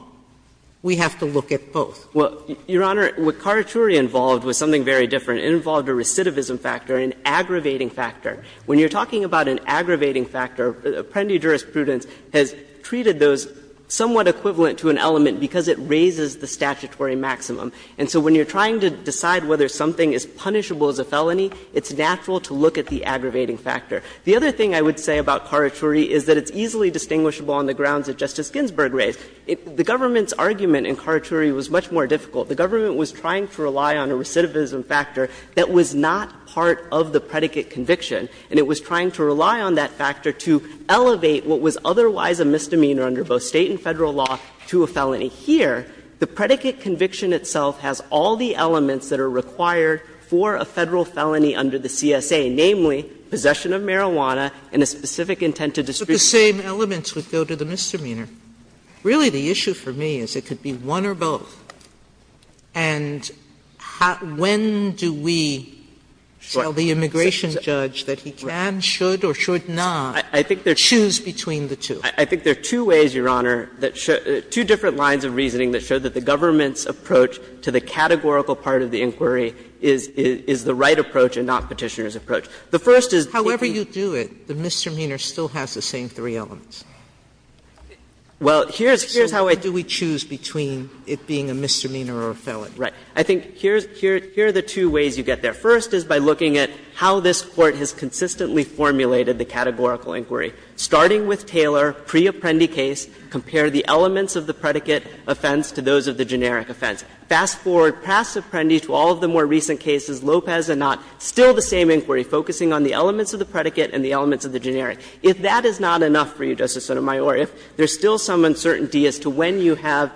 we have to look at both. Well, Your Honor, what Karachuri involved was something very different. It involved a recidivism factor, an aggravating factor. When you're talking about an aggravating factor, Apprendi jurisprudence has treated those somewhat equivalent to an element because it raises the statutory maximum. And so when you're trying to decide whether something is punishable as a felony, it's natural to look at the aggravating factor. The other thing I would say about Karachuri is that it's easily distinguishable on the grounds that Justice Ginsburg raised. The government's argument in Karachuri was much more difficult. The government was trying to rely on a recidivism factor that was not part of the predicate conviction, and it was trying to rely on that factor to elevate what was otherwise a misdemeanor under both State and Federal law to a felony. Here, the predicate conviction itself has all the elements that are required for a Federal felony under the CSA, namely possession of marijuana and a specific intent to distribute. Sotomayor, but the same elements would go to the misdemeanor. Really, the issue for me is it could be one or both, and when do we tell the immigration judge that he can, should or should not choose between the two? I think there are two ways, Your Honor, that show the two different lines of reasoning that show that the government's approach to the categorical part of the inquiry is the right approach and not Petitioner's approach. Well, here's how I think. Sotomayor, do we choose between it being a misdemeanor or a felon? Right. I think here's the two ways you get there. First is by looking at how this Court has consistently formulated the categorical inquiry. Starting with Taylor, pre-Apprendi case, compare the elements of the predicate offense to those of the generic offense. Fast forward past Apprendi to all of the more recent cases, Lopez and not, still the same inquiry, focusing on the elements of the predicate and the elements of the generic. If that is not enough for you, Justice Sotomayor, if there's still some uncertainty as to when you have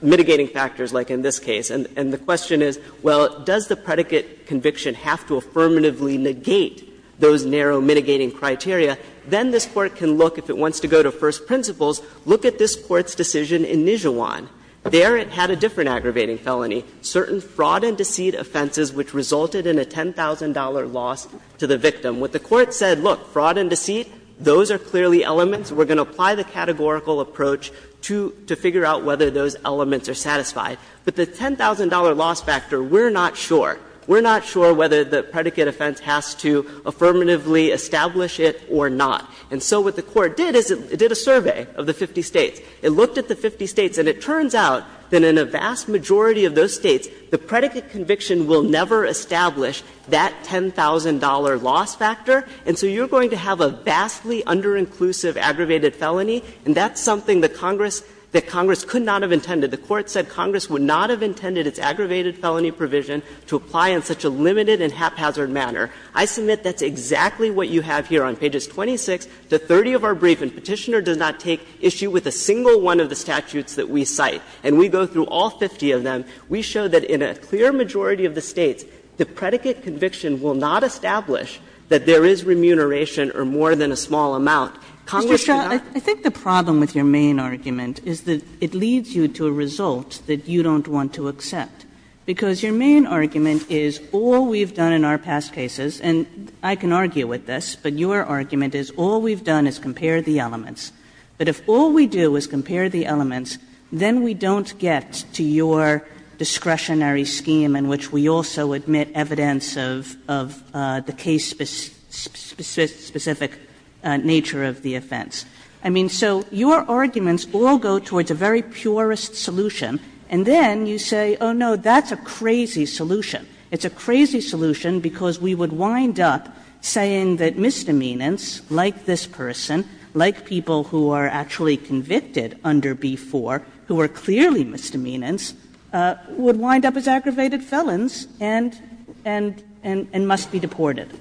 mitigating factors like in this case, and the question is, well, does the predicate conviction have to affirmatively negate those narrow mitigating criteria, then this Court can look, if it wants to go to first principles, look at this Court's decision in Nijuan. There it had a different aggravating felony, certain fraud and deceit offenses which resulted in a $10,000 loss to the victim. What the Court said, look, fraud and deceit, those are clearly elements. We're going to apply the categorical approach to figure out whether those elements are satisfied. But the $10,000 loss factor, we're not sure. We're not sure whether the predicate offense has to affirmatively establish it or not. And so what the Court did is it did a survey of the 50 States. It looked at the 50 States, and it turns out that in a vast majority of those States, the predicate conviction will never establish that $10,000 loss factor, and so you're going to have a vastly under-inclusive aggravated felony, and that's something that Congress could not have intended. The Court said Congress would not have intended its aggravated felony provision to apply in such a limited and haphazard manner. I submit that's exactly what you have here on pages 26 to 30 of our brief, and Petitioner does not take issue with a single one of the statutes that we cite. And we go through all 50 of them. We show that in a clear majority of the States, the predicate conviction will not establish that there is remuneration or more than a small amount. Congress should not. Kagan, I think the problem with your main argument is that it leads you to a result that you don't want to accept, because your main argument is all we've done in our past cases, and I can argue with this, but your argument is all we've done is compare the elements. But if all we do is compare the elements, then we don't get to your discretionary scheme in which we also admit evidence of the case-specific nature of the offense. I mean, so your arguments all go towards a very purest solution, and then you say, oh, no, that's a crazy solution. It's a crazy solution because we would wind up saying that misdemeanors like this person, like people who are actually convicted under B-4, who are clearly misdemeanors, would wind up as aggravated felons and must be deported.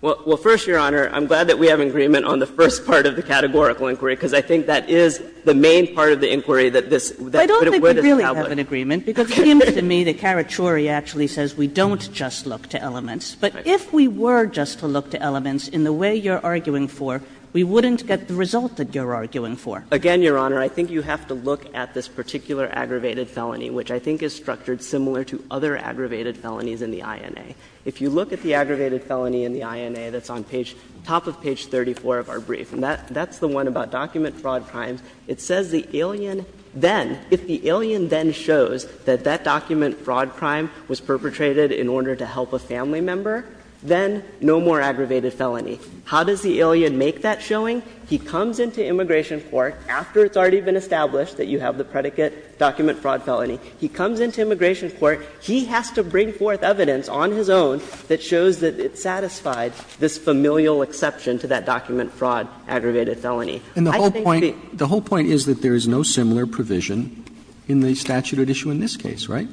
Well, first, Your Honor, I'm glad that we have an agreement on the first part of the categorical inquiry, because I think that is the main part of the inquiry that this would establish. But I don't think we really have an agreement, because it seems to me that Karachuri actually says we don't just look to elements, but if we were just to look to elements in the way you're arguing for, we wouldn't get the result that you're arguing for. Again, Your Honor, I think you have to look at this particular aggravated felony, which I think is structured similar to other aggravated felonies in the INA. If you look at the aggravated felony in the INA that's on page – top of page 34 of our brief, and that's the one about document fraud crimes, it says the alien then, if the alien then shows that that document fraud crime was perpetrated in order to help a family member, then no more aggravated felony. How does the alien make that showing? He comes into immigration court after it's already been established that you have the predicate document fraud felony. He comes into immigration court. He has to bring forth evidence on his own that shows that it satisfied this familial exception to that document fraud aggravated felony. I think that the – Roberts, and the whole point is that there is no similar provision in the statute at issue in this case, right?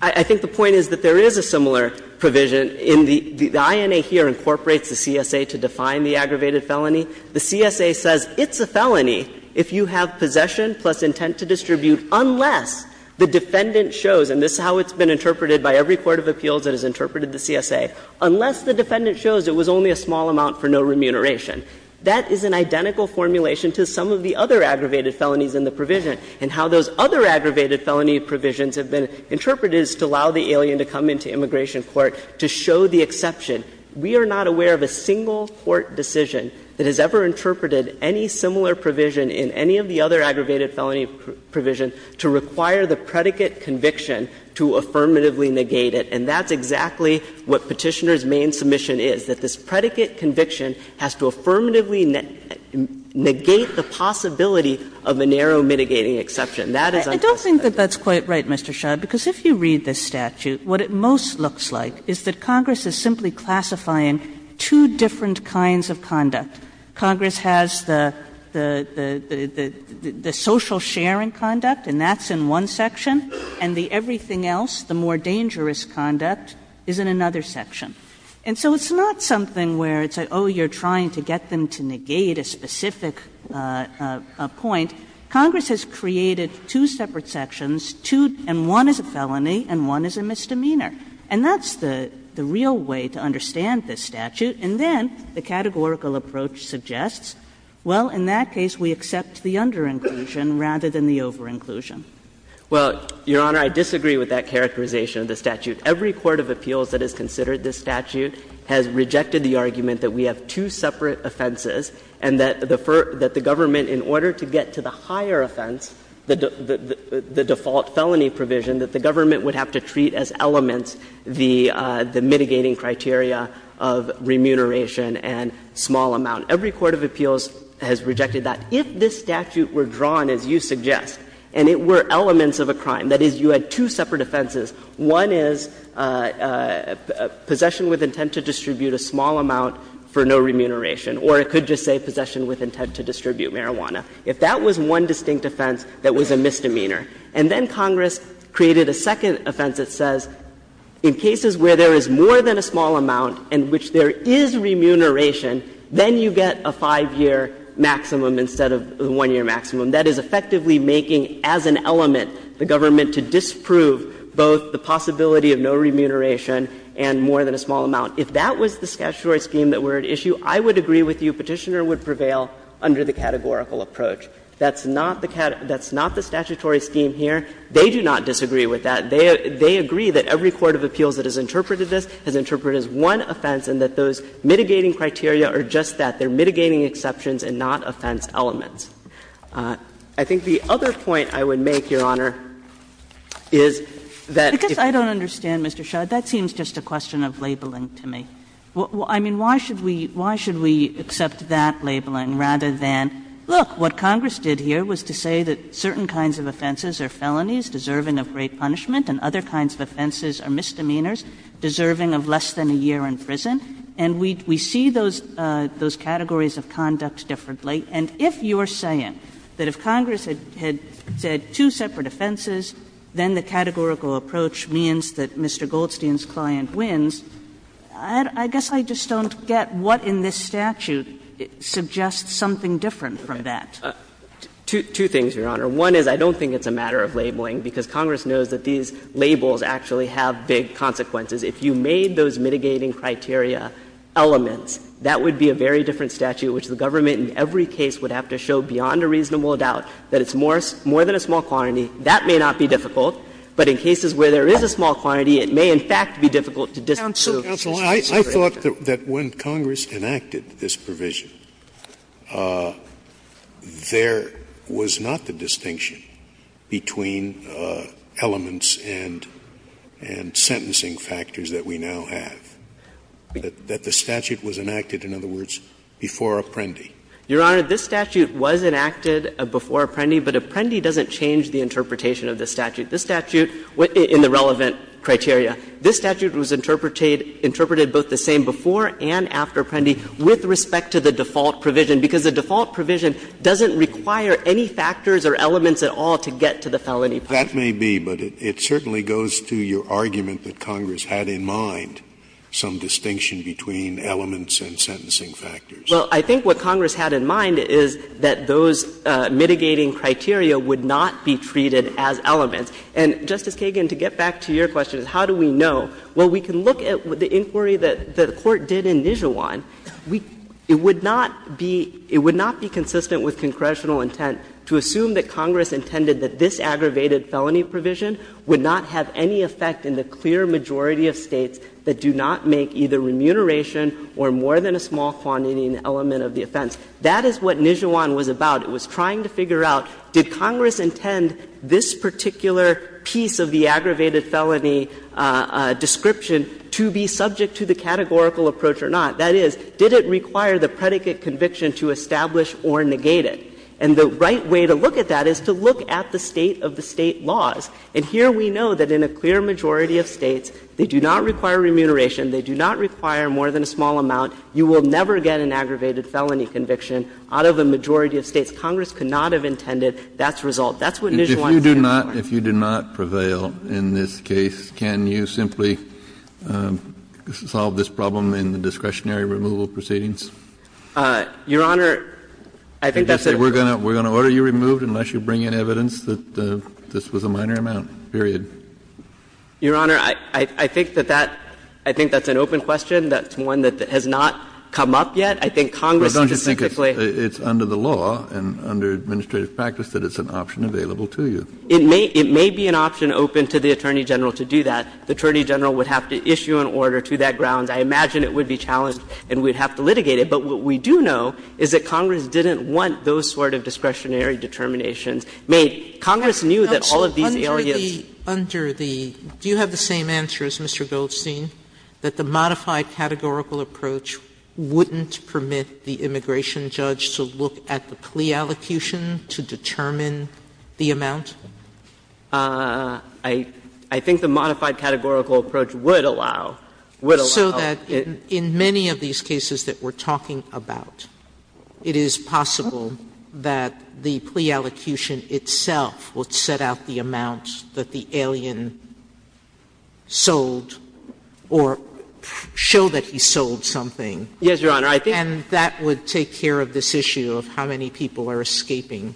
I think the point is that there is a similar provision in the – the INA here incorporates the CSA to define the aggravated felony. The CSA says it's a felony if you have possession plus intent to distribute unless the defendant shows, and this is how it's been interpreted by every court of appeals that has interpreted the CSA, unless the defendant shows it was only a small amount for no remuneration. That is an identical formulation to some of the other aggravated felonies in the statute. And the reason it's been interpreted is to allow the alien to come into immigration court to show the exception. We are not aware of a single court decision that has ever interpreted any similar provision in any of the other aggravated felony provision to require the predicate conviction to affirmatively negate it. And that's exactly what Petitioner's main submission is, that this predicate conviction has to affirmatively negate the possibility of a narrow mitigating exception. That is unclassified. Kagan I don't think that that's quite right, Mr. Shah, because if you read this statute, what it most looks like is that Congress is simply classifying two different kinds of conduct. Congress has the – the social sharing conduct, and that's in one section, and the everything else, the more dangerous conduct, is in another section. And so it's not something where it's like, oh, you're trying to get them to negate a specific point. Congress has created two separate sections, two – and one is a felony and one is a misdemeanor. And that's the real way to understand this statute. And then the categorical approach suggests, well, in that case we accept the under inclusion rather than the over inclusion. Shah Well, Your Honor, I disagree with that characterization of the statute. Every court of appeals that has considered this statute has rejected the argument that in a higher offense, the default felony provision, that the government would have to treat as elements the mitigating criteria of remuneration and small amount. Every court of appeals has rejected that. If this statute were drawn, as you suggest, and it were elements of a crime, that is, you had two separate offenses, one is possession with intent to distribute a small amount for no remuneration, or it could just say possession with intent to distribute marijuana. If that was one distinct offense, that was a misdemeanor. And then Congress created a second offense that says, in cases where there is more than a small amount in which there is remuneration, then you get a 5-year maximum instead of the 1-year maximum. That is effectively making as an element the government to disprove both the possibility of no remuneration and more than a small amount. If that was the statutory scheme that were at issue, I would agree with you Petitioner that it would prevail under the categorical approach. That's not the statutory scheme here. They do not disagree with that. They agree that every court of appeals that has interpreted this has interpreted as one offense and that those mitigating criteria are just that. They are mitigating exceptions and not offense elements. I think the other point I would make, Your Honor, is that if you're going to say that you're going to say that you're going to say that you're going to say that you are going to say that, then you're mislabeling rather than, look, what Congress did here was to say that certain kinds of offenses are felonies deserving of great punishment and other kinds of offenses are misdemeanors deserving of less than a year in prison, and we see those categories of conduct differently. And if you're saying that if Congress had said two separate offenses, then the categorical approach means that Mr. Goldstein's client wins, I guess I just don't get what in this statute suggests something different from that. Two things, Your Honor. One is I don't think it's a matter of labeling, because Congress knows that these labels actually have big consequences. If you made those mitigating criteria elements, that would be a very different statute, which the government in every case would have to show beyond a reasonable doubt that it's more than a small quantity. That may not be difficult, but in cases where there is a small quantity, it may in fact be difficult to distinguish. Scalia. Scalia. I thought that when Congress enacted this provision, there was not the distinction between elements and sentencing factors that we now have, that the statute was enacted, in other words, before Apprendi. Your Honor, this statute was enacted before Apprendi, but Apprendi doesn't change the interpretation of this statute. This statute, in the relevant criteria, this statute was interpreted both the same before and after Apprendi with respect to the default provision, because the default provision doesn't require any factors or elements at all to get to the felony point. Scalia. That may be, but it certainly goes to your argument that Congress had in mind some distinction between elements and sentencing factors. Well, I think what Congress had in mind is that those mitigating criteria would not be treated as elements. And, Justice Kagan, to get back to your question, how do we know? Well, we can look at the inquiry that the Court did in Nijhawan. We — it would not be — it would not be consistent with congressional intent to assume that Congress intended that this aggravated felony provision would not have any effect in the clear majority of States that do not make either a small quantity or an element of the offense. That is what Nijhawan was about. It was trying to figure out, did Congress intend this particular piece of the aggravated felony description to be subject to the categorical approach or not? That is, did it require the predicate conviction to establish or negate it? And the right way to look at that is to look at the State of the State laws. And here we know that in a clear majority of States, they do not require remuneration, they do not require more than a small amount. You will never get an aggravated felony conviction out of a majority of States. Congress could not have intended that result. That's what Nijhawan said. Kennedy, if you do not prevail in this case, can you simply solve this problem in the discretionary removal proceedings? Your Honor, I think that's a — We're going to order you removed unless you bring in evidence that this was a minor amount, period. Your Honor, I think that that — I think that's an open question. That's one that has not come up yet. I think Congress specifically — Well, don't you think it's under the law and under administrative practice that it's an option available to you? It may be an option open to the Attorney General to do that. The Attorney General would have to issue an order to that grounds. I imagine it would be challenged and we'd have to litigate it. But what we do know is that Congress didn't want those sort of discretionary determinations made. Congress knew that all of these areas — Sotomayor, do you have the same answer as Mr. Goldstein, that the modified categorical approach wouldn't permit the immigration judge to look at the plea allocution to determine the amount? I think the modified categorical approach would allow — would allow — So that in many of these cases that we're talking about, it is possible that the plea allocution would determine the amount that the alien sold or show that he sold something. Yes, Your Honor. I think — And that would take care of this issue of how many people are escaping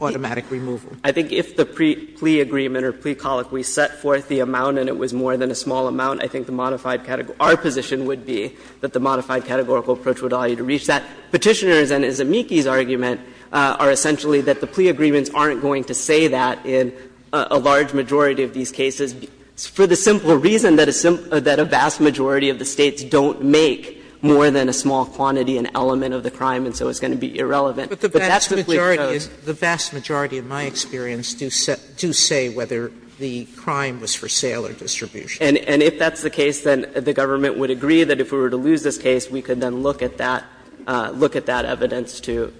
automatic removal. I think if the plea agreement or plea colloquy set forth the amount and it was more than a small amount, I think the modified — our position would be that the modified categorical approach would allow you to reach that. Petitioners and Zemeckis' argument are essentially that the plea agreements aren't going to say that in a large majority of these cases, for the simple reason that a simple — that a vast majority of the States don't make more than a small quantity, an element of the crime, and so it's going to be irrelevant. But that simply shows— But the vast majority — the vast majority, in my experience, do say whether the crime was for sale or distribution. And if that's the case, then the government would agree that if we were to lose this case, we could then look at that — look at that evidence to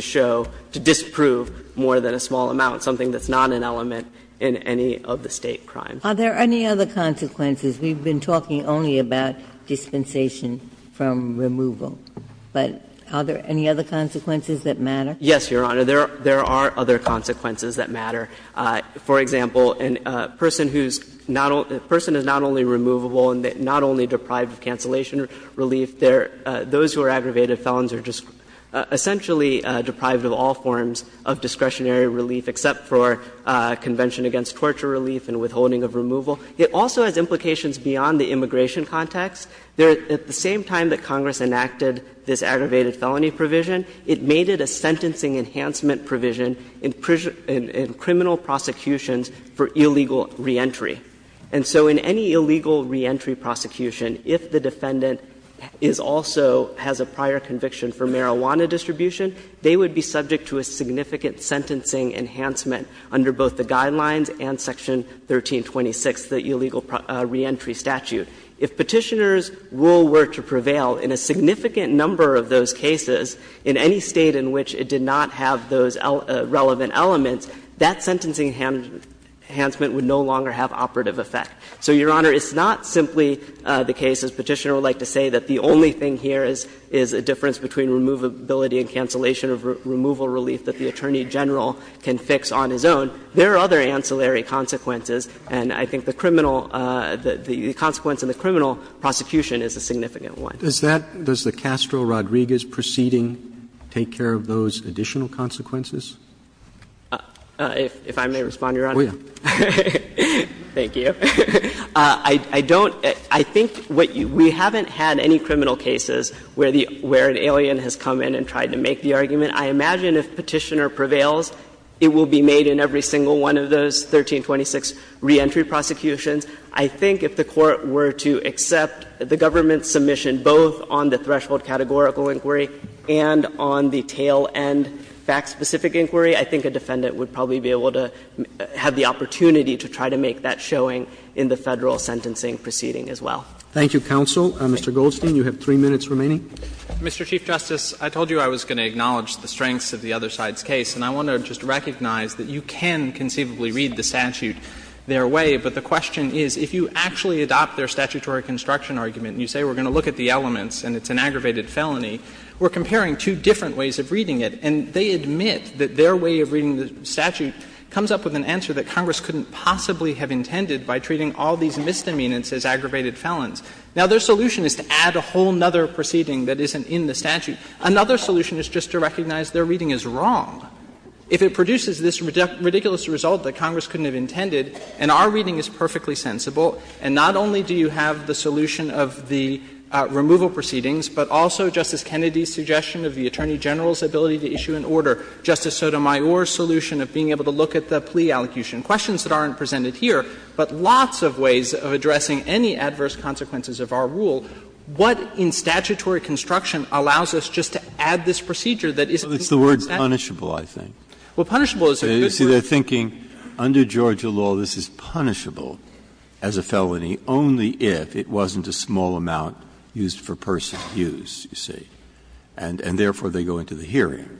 show — to disprove more than a small amount, something that's not an element in any of the State crimes. Are there any other consequences? We've been talking only about dispensation from removal. But are there any other consequences that matter? Yes, Your Honor. There are other consequences that matter. For example, a person who's not — a person is not only removable and not only deprived of cancellation relief, they're — those who are aggravated felons are essentially deprived of all forms of discretionary relief except for Convention against Torture Relief and withholding of removal. It also has implications beyond the immigration context. There — at the same time that Congress enacted this aggravated felony provision, it made it a sentencing enhancement provision in criminal prosecutions for illegal reentry. And so in any illegal reentry prosecution, if the defendant is also — has a prior conviction for marijuana distribution, they would be subject to a significant sentencing enhancement under both the guidelines and Section 1326, the illegal reentry statute. If Petitioner's rule were to prevail in a significant number of those cases, in any State in which it did not have those relevant elements, that sentencing enhancement would no longer have operative effect. So, Your Honor, it's not simply the case, as Petitioner would like to say, that the only thing here is a difference between removability and cancellation of removal relief that the Attorney General can fix on his own. There are other ancillary consequences, and I think the criminal — the consequence in the criminal prosecution is a significant one. Roberts. Does that — does the Castro-Rodriguez proceeding take care of those additional consequences? If I may respond, Your Honor. Oh, yeah. Thank you. I don't — I think what you — we haven't had any criminal cases where the — where an alien has come in and tried to make the argument. I imagine if Petitioner prevails, it will be made in every single one of those 1326 reentry prosecutions. I think if the Court were to accept the government's submission both on the threshold categorical inquiry and on the tail-end fact-specific inquiry, I think a defendant would probably be able to have the opportunity to try to make that showing in the Federal sentencing proceeding as well. Thank you, counsel. Mr. Goldstein, you have 3 minutes remaining. Mr. Chief Justice, I told you I was going to acknowledge the strengths of the other side's case, and I want to just recognize that you can conceivably read the statute their way, but the question is, if you actually adopt their statutory construction argument and you say we're going to look at the elements and it's an aggravated felony, we're comparing two different ways of reading it, and they admit that their way of reading the statute comes up with an answer that Congress couldn't possibly have intended by treating all these misdemeanors as aggravated felons. Now, their solution is to add a whole other proceeding that isn't in the statute. Another solution is just to recognize their reading is wrong. If it produces this ridiculous result that Congress couldn't have intended, and our reading is perfectly sensible, and not only do you have the solution of the removal proceedings, but also Justice Kennedy's suggestion of the Attorney General's ability to issue an order, Justice Sotomayor's solution of being able to look at the plea allocution, questions that aren't presented here, but lots of ways of addressing any adverse consequences of our rule, what in statutory construction allows us just to add this procedure that isn't in the statute? Breyer. Well, it's the word punishable, I think. Well, punishable is a good word. You see, they're thinking under Georgia law, this is punishable as a felony only if it wasn't a small amount used for personal use, you see, and therefore they go into the hearing.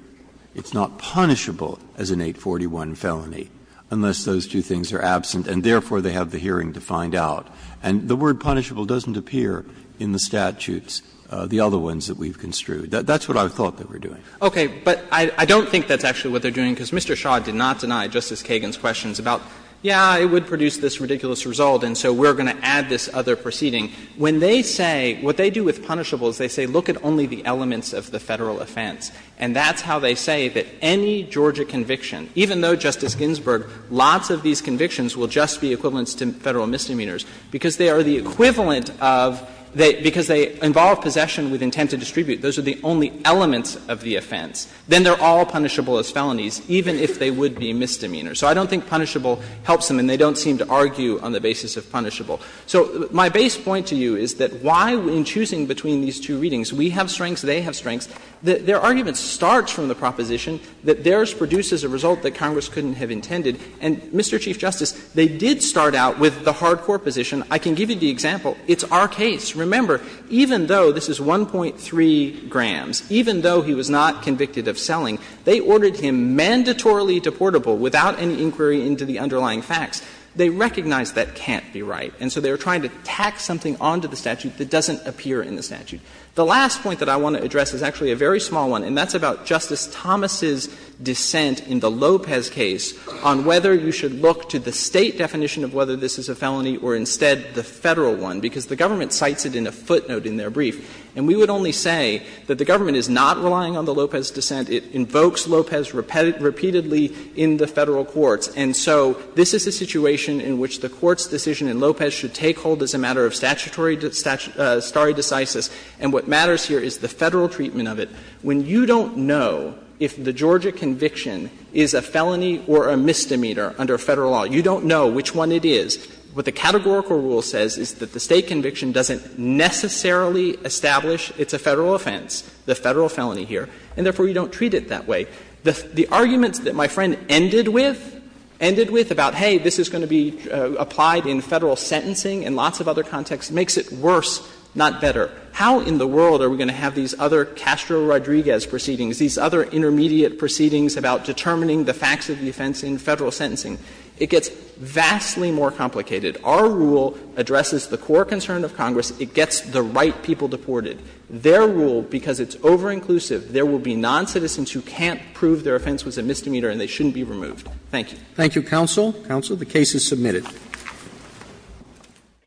It's not punishable as an 841 felony unless those two things are absent, and therefore they have the hearing to find out. And the word punishable doesn't appear in the statutes, the other ones that we've construed. That's what I thought they were doing. Okay. But I don't think that's actually what they're doing, because Mr. Shaw did not deny Justice Kagan's questions about, yeah, it would produce this ridiculous result, and so we're going to add this other proceeding. When they say, what they do with punishable is they say look at only the elements of the Federal offense. And that's how they say that any Georgia conviction, even though, Justice Ginsburg, lots of these convictions will just be equivalents to Federal misdemeanors, because they are the equivalent of they — because they involve possession with intent to distribute. Those are the only elements of the offense. Then they're all punishable as felonies, even if they would be misdemeanors. So I don't think punishable helps them, and they don't seem to argue on the basis of punishable. So my base point to you is that why, in choosing between these two readings, we have to choose between the two, is because they are not one-sided. And they have different strengths. Their argument starts from the proposition that theirs produces a result that Congress couldn't have intended. And, Mr. Chief Justice, they did start out with the hard-core position. I can give you the example. It's our case. Remember, even though this is 1.3 grams, even though he was not convicted of selling, they ordered him mandatorily deportable without any inquiry into the underlying facts, they recognized that can't be right. And so they were trying to tack something onto the statute that doesn't appear in the statute. The last point that I want to address is actually a very small one, and that's about Justice Thomas' dissent in the Lopez case on whether you should look to the State definition of whether this is a felony or instead the Federal one, because the government cites it in a footnote in their brief. And we would only say that the government is not relying on the Lopez dissent. It invokes Lopez repeatedly in the Federal courts. And so this is a situation in which the Court's decision in Lopez should take hold as a matter of statutory stare decisis, and what matters here is the Federal treatment of it. When you don't know if the Georgia conviction is a felony or a misdemeanor under Federal law, you don't know which one it is. What the categorical rule says is that the State conviction doesn't necessarily establish it's a Federal offense, the Federal felony here, and therefore you don't treat it that way. The argument that my friend ended with, ended with about, hey, this is going to be applied in Federal sentencing and lots of other contexts, makes it worse, not better. How in the world are we going to have these other Castro-Rodriguez proceedings, these other intermediate proceedings about determining the facts of the offense in Federal sentencing? It gets vastly more complicated. Our rule addresses the core concern of Congress. It gets the right people deported. Their rule, because it's over-inclusive, there will be noncitizens who can't prove their offense was a misdemeanor and they shouldn't be removed. Thank you. Roberts. Thank you, counsel. Counsel, the case is submitted.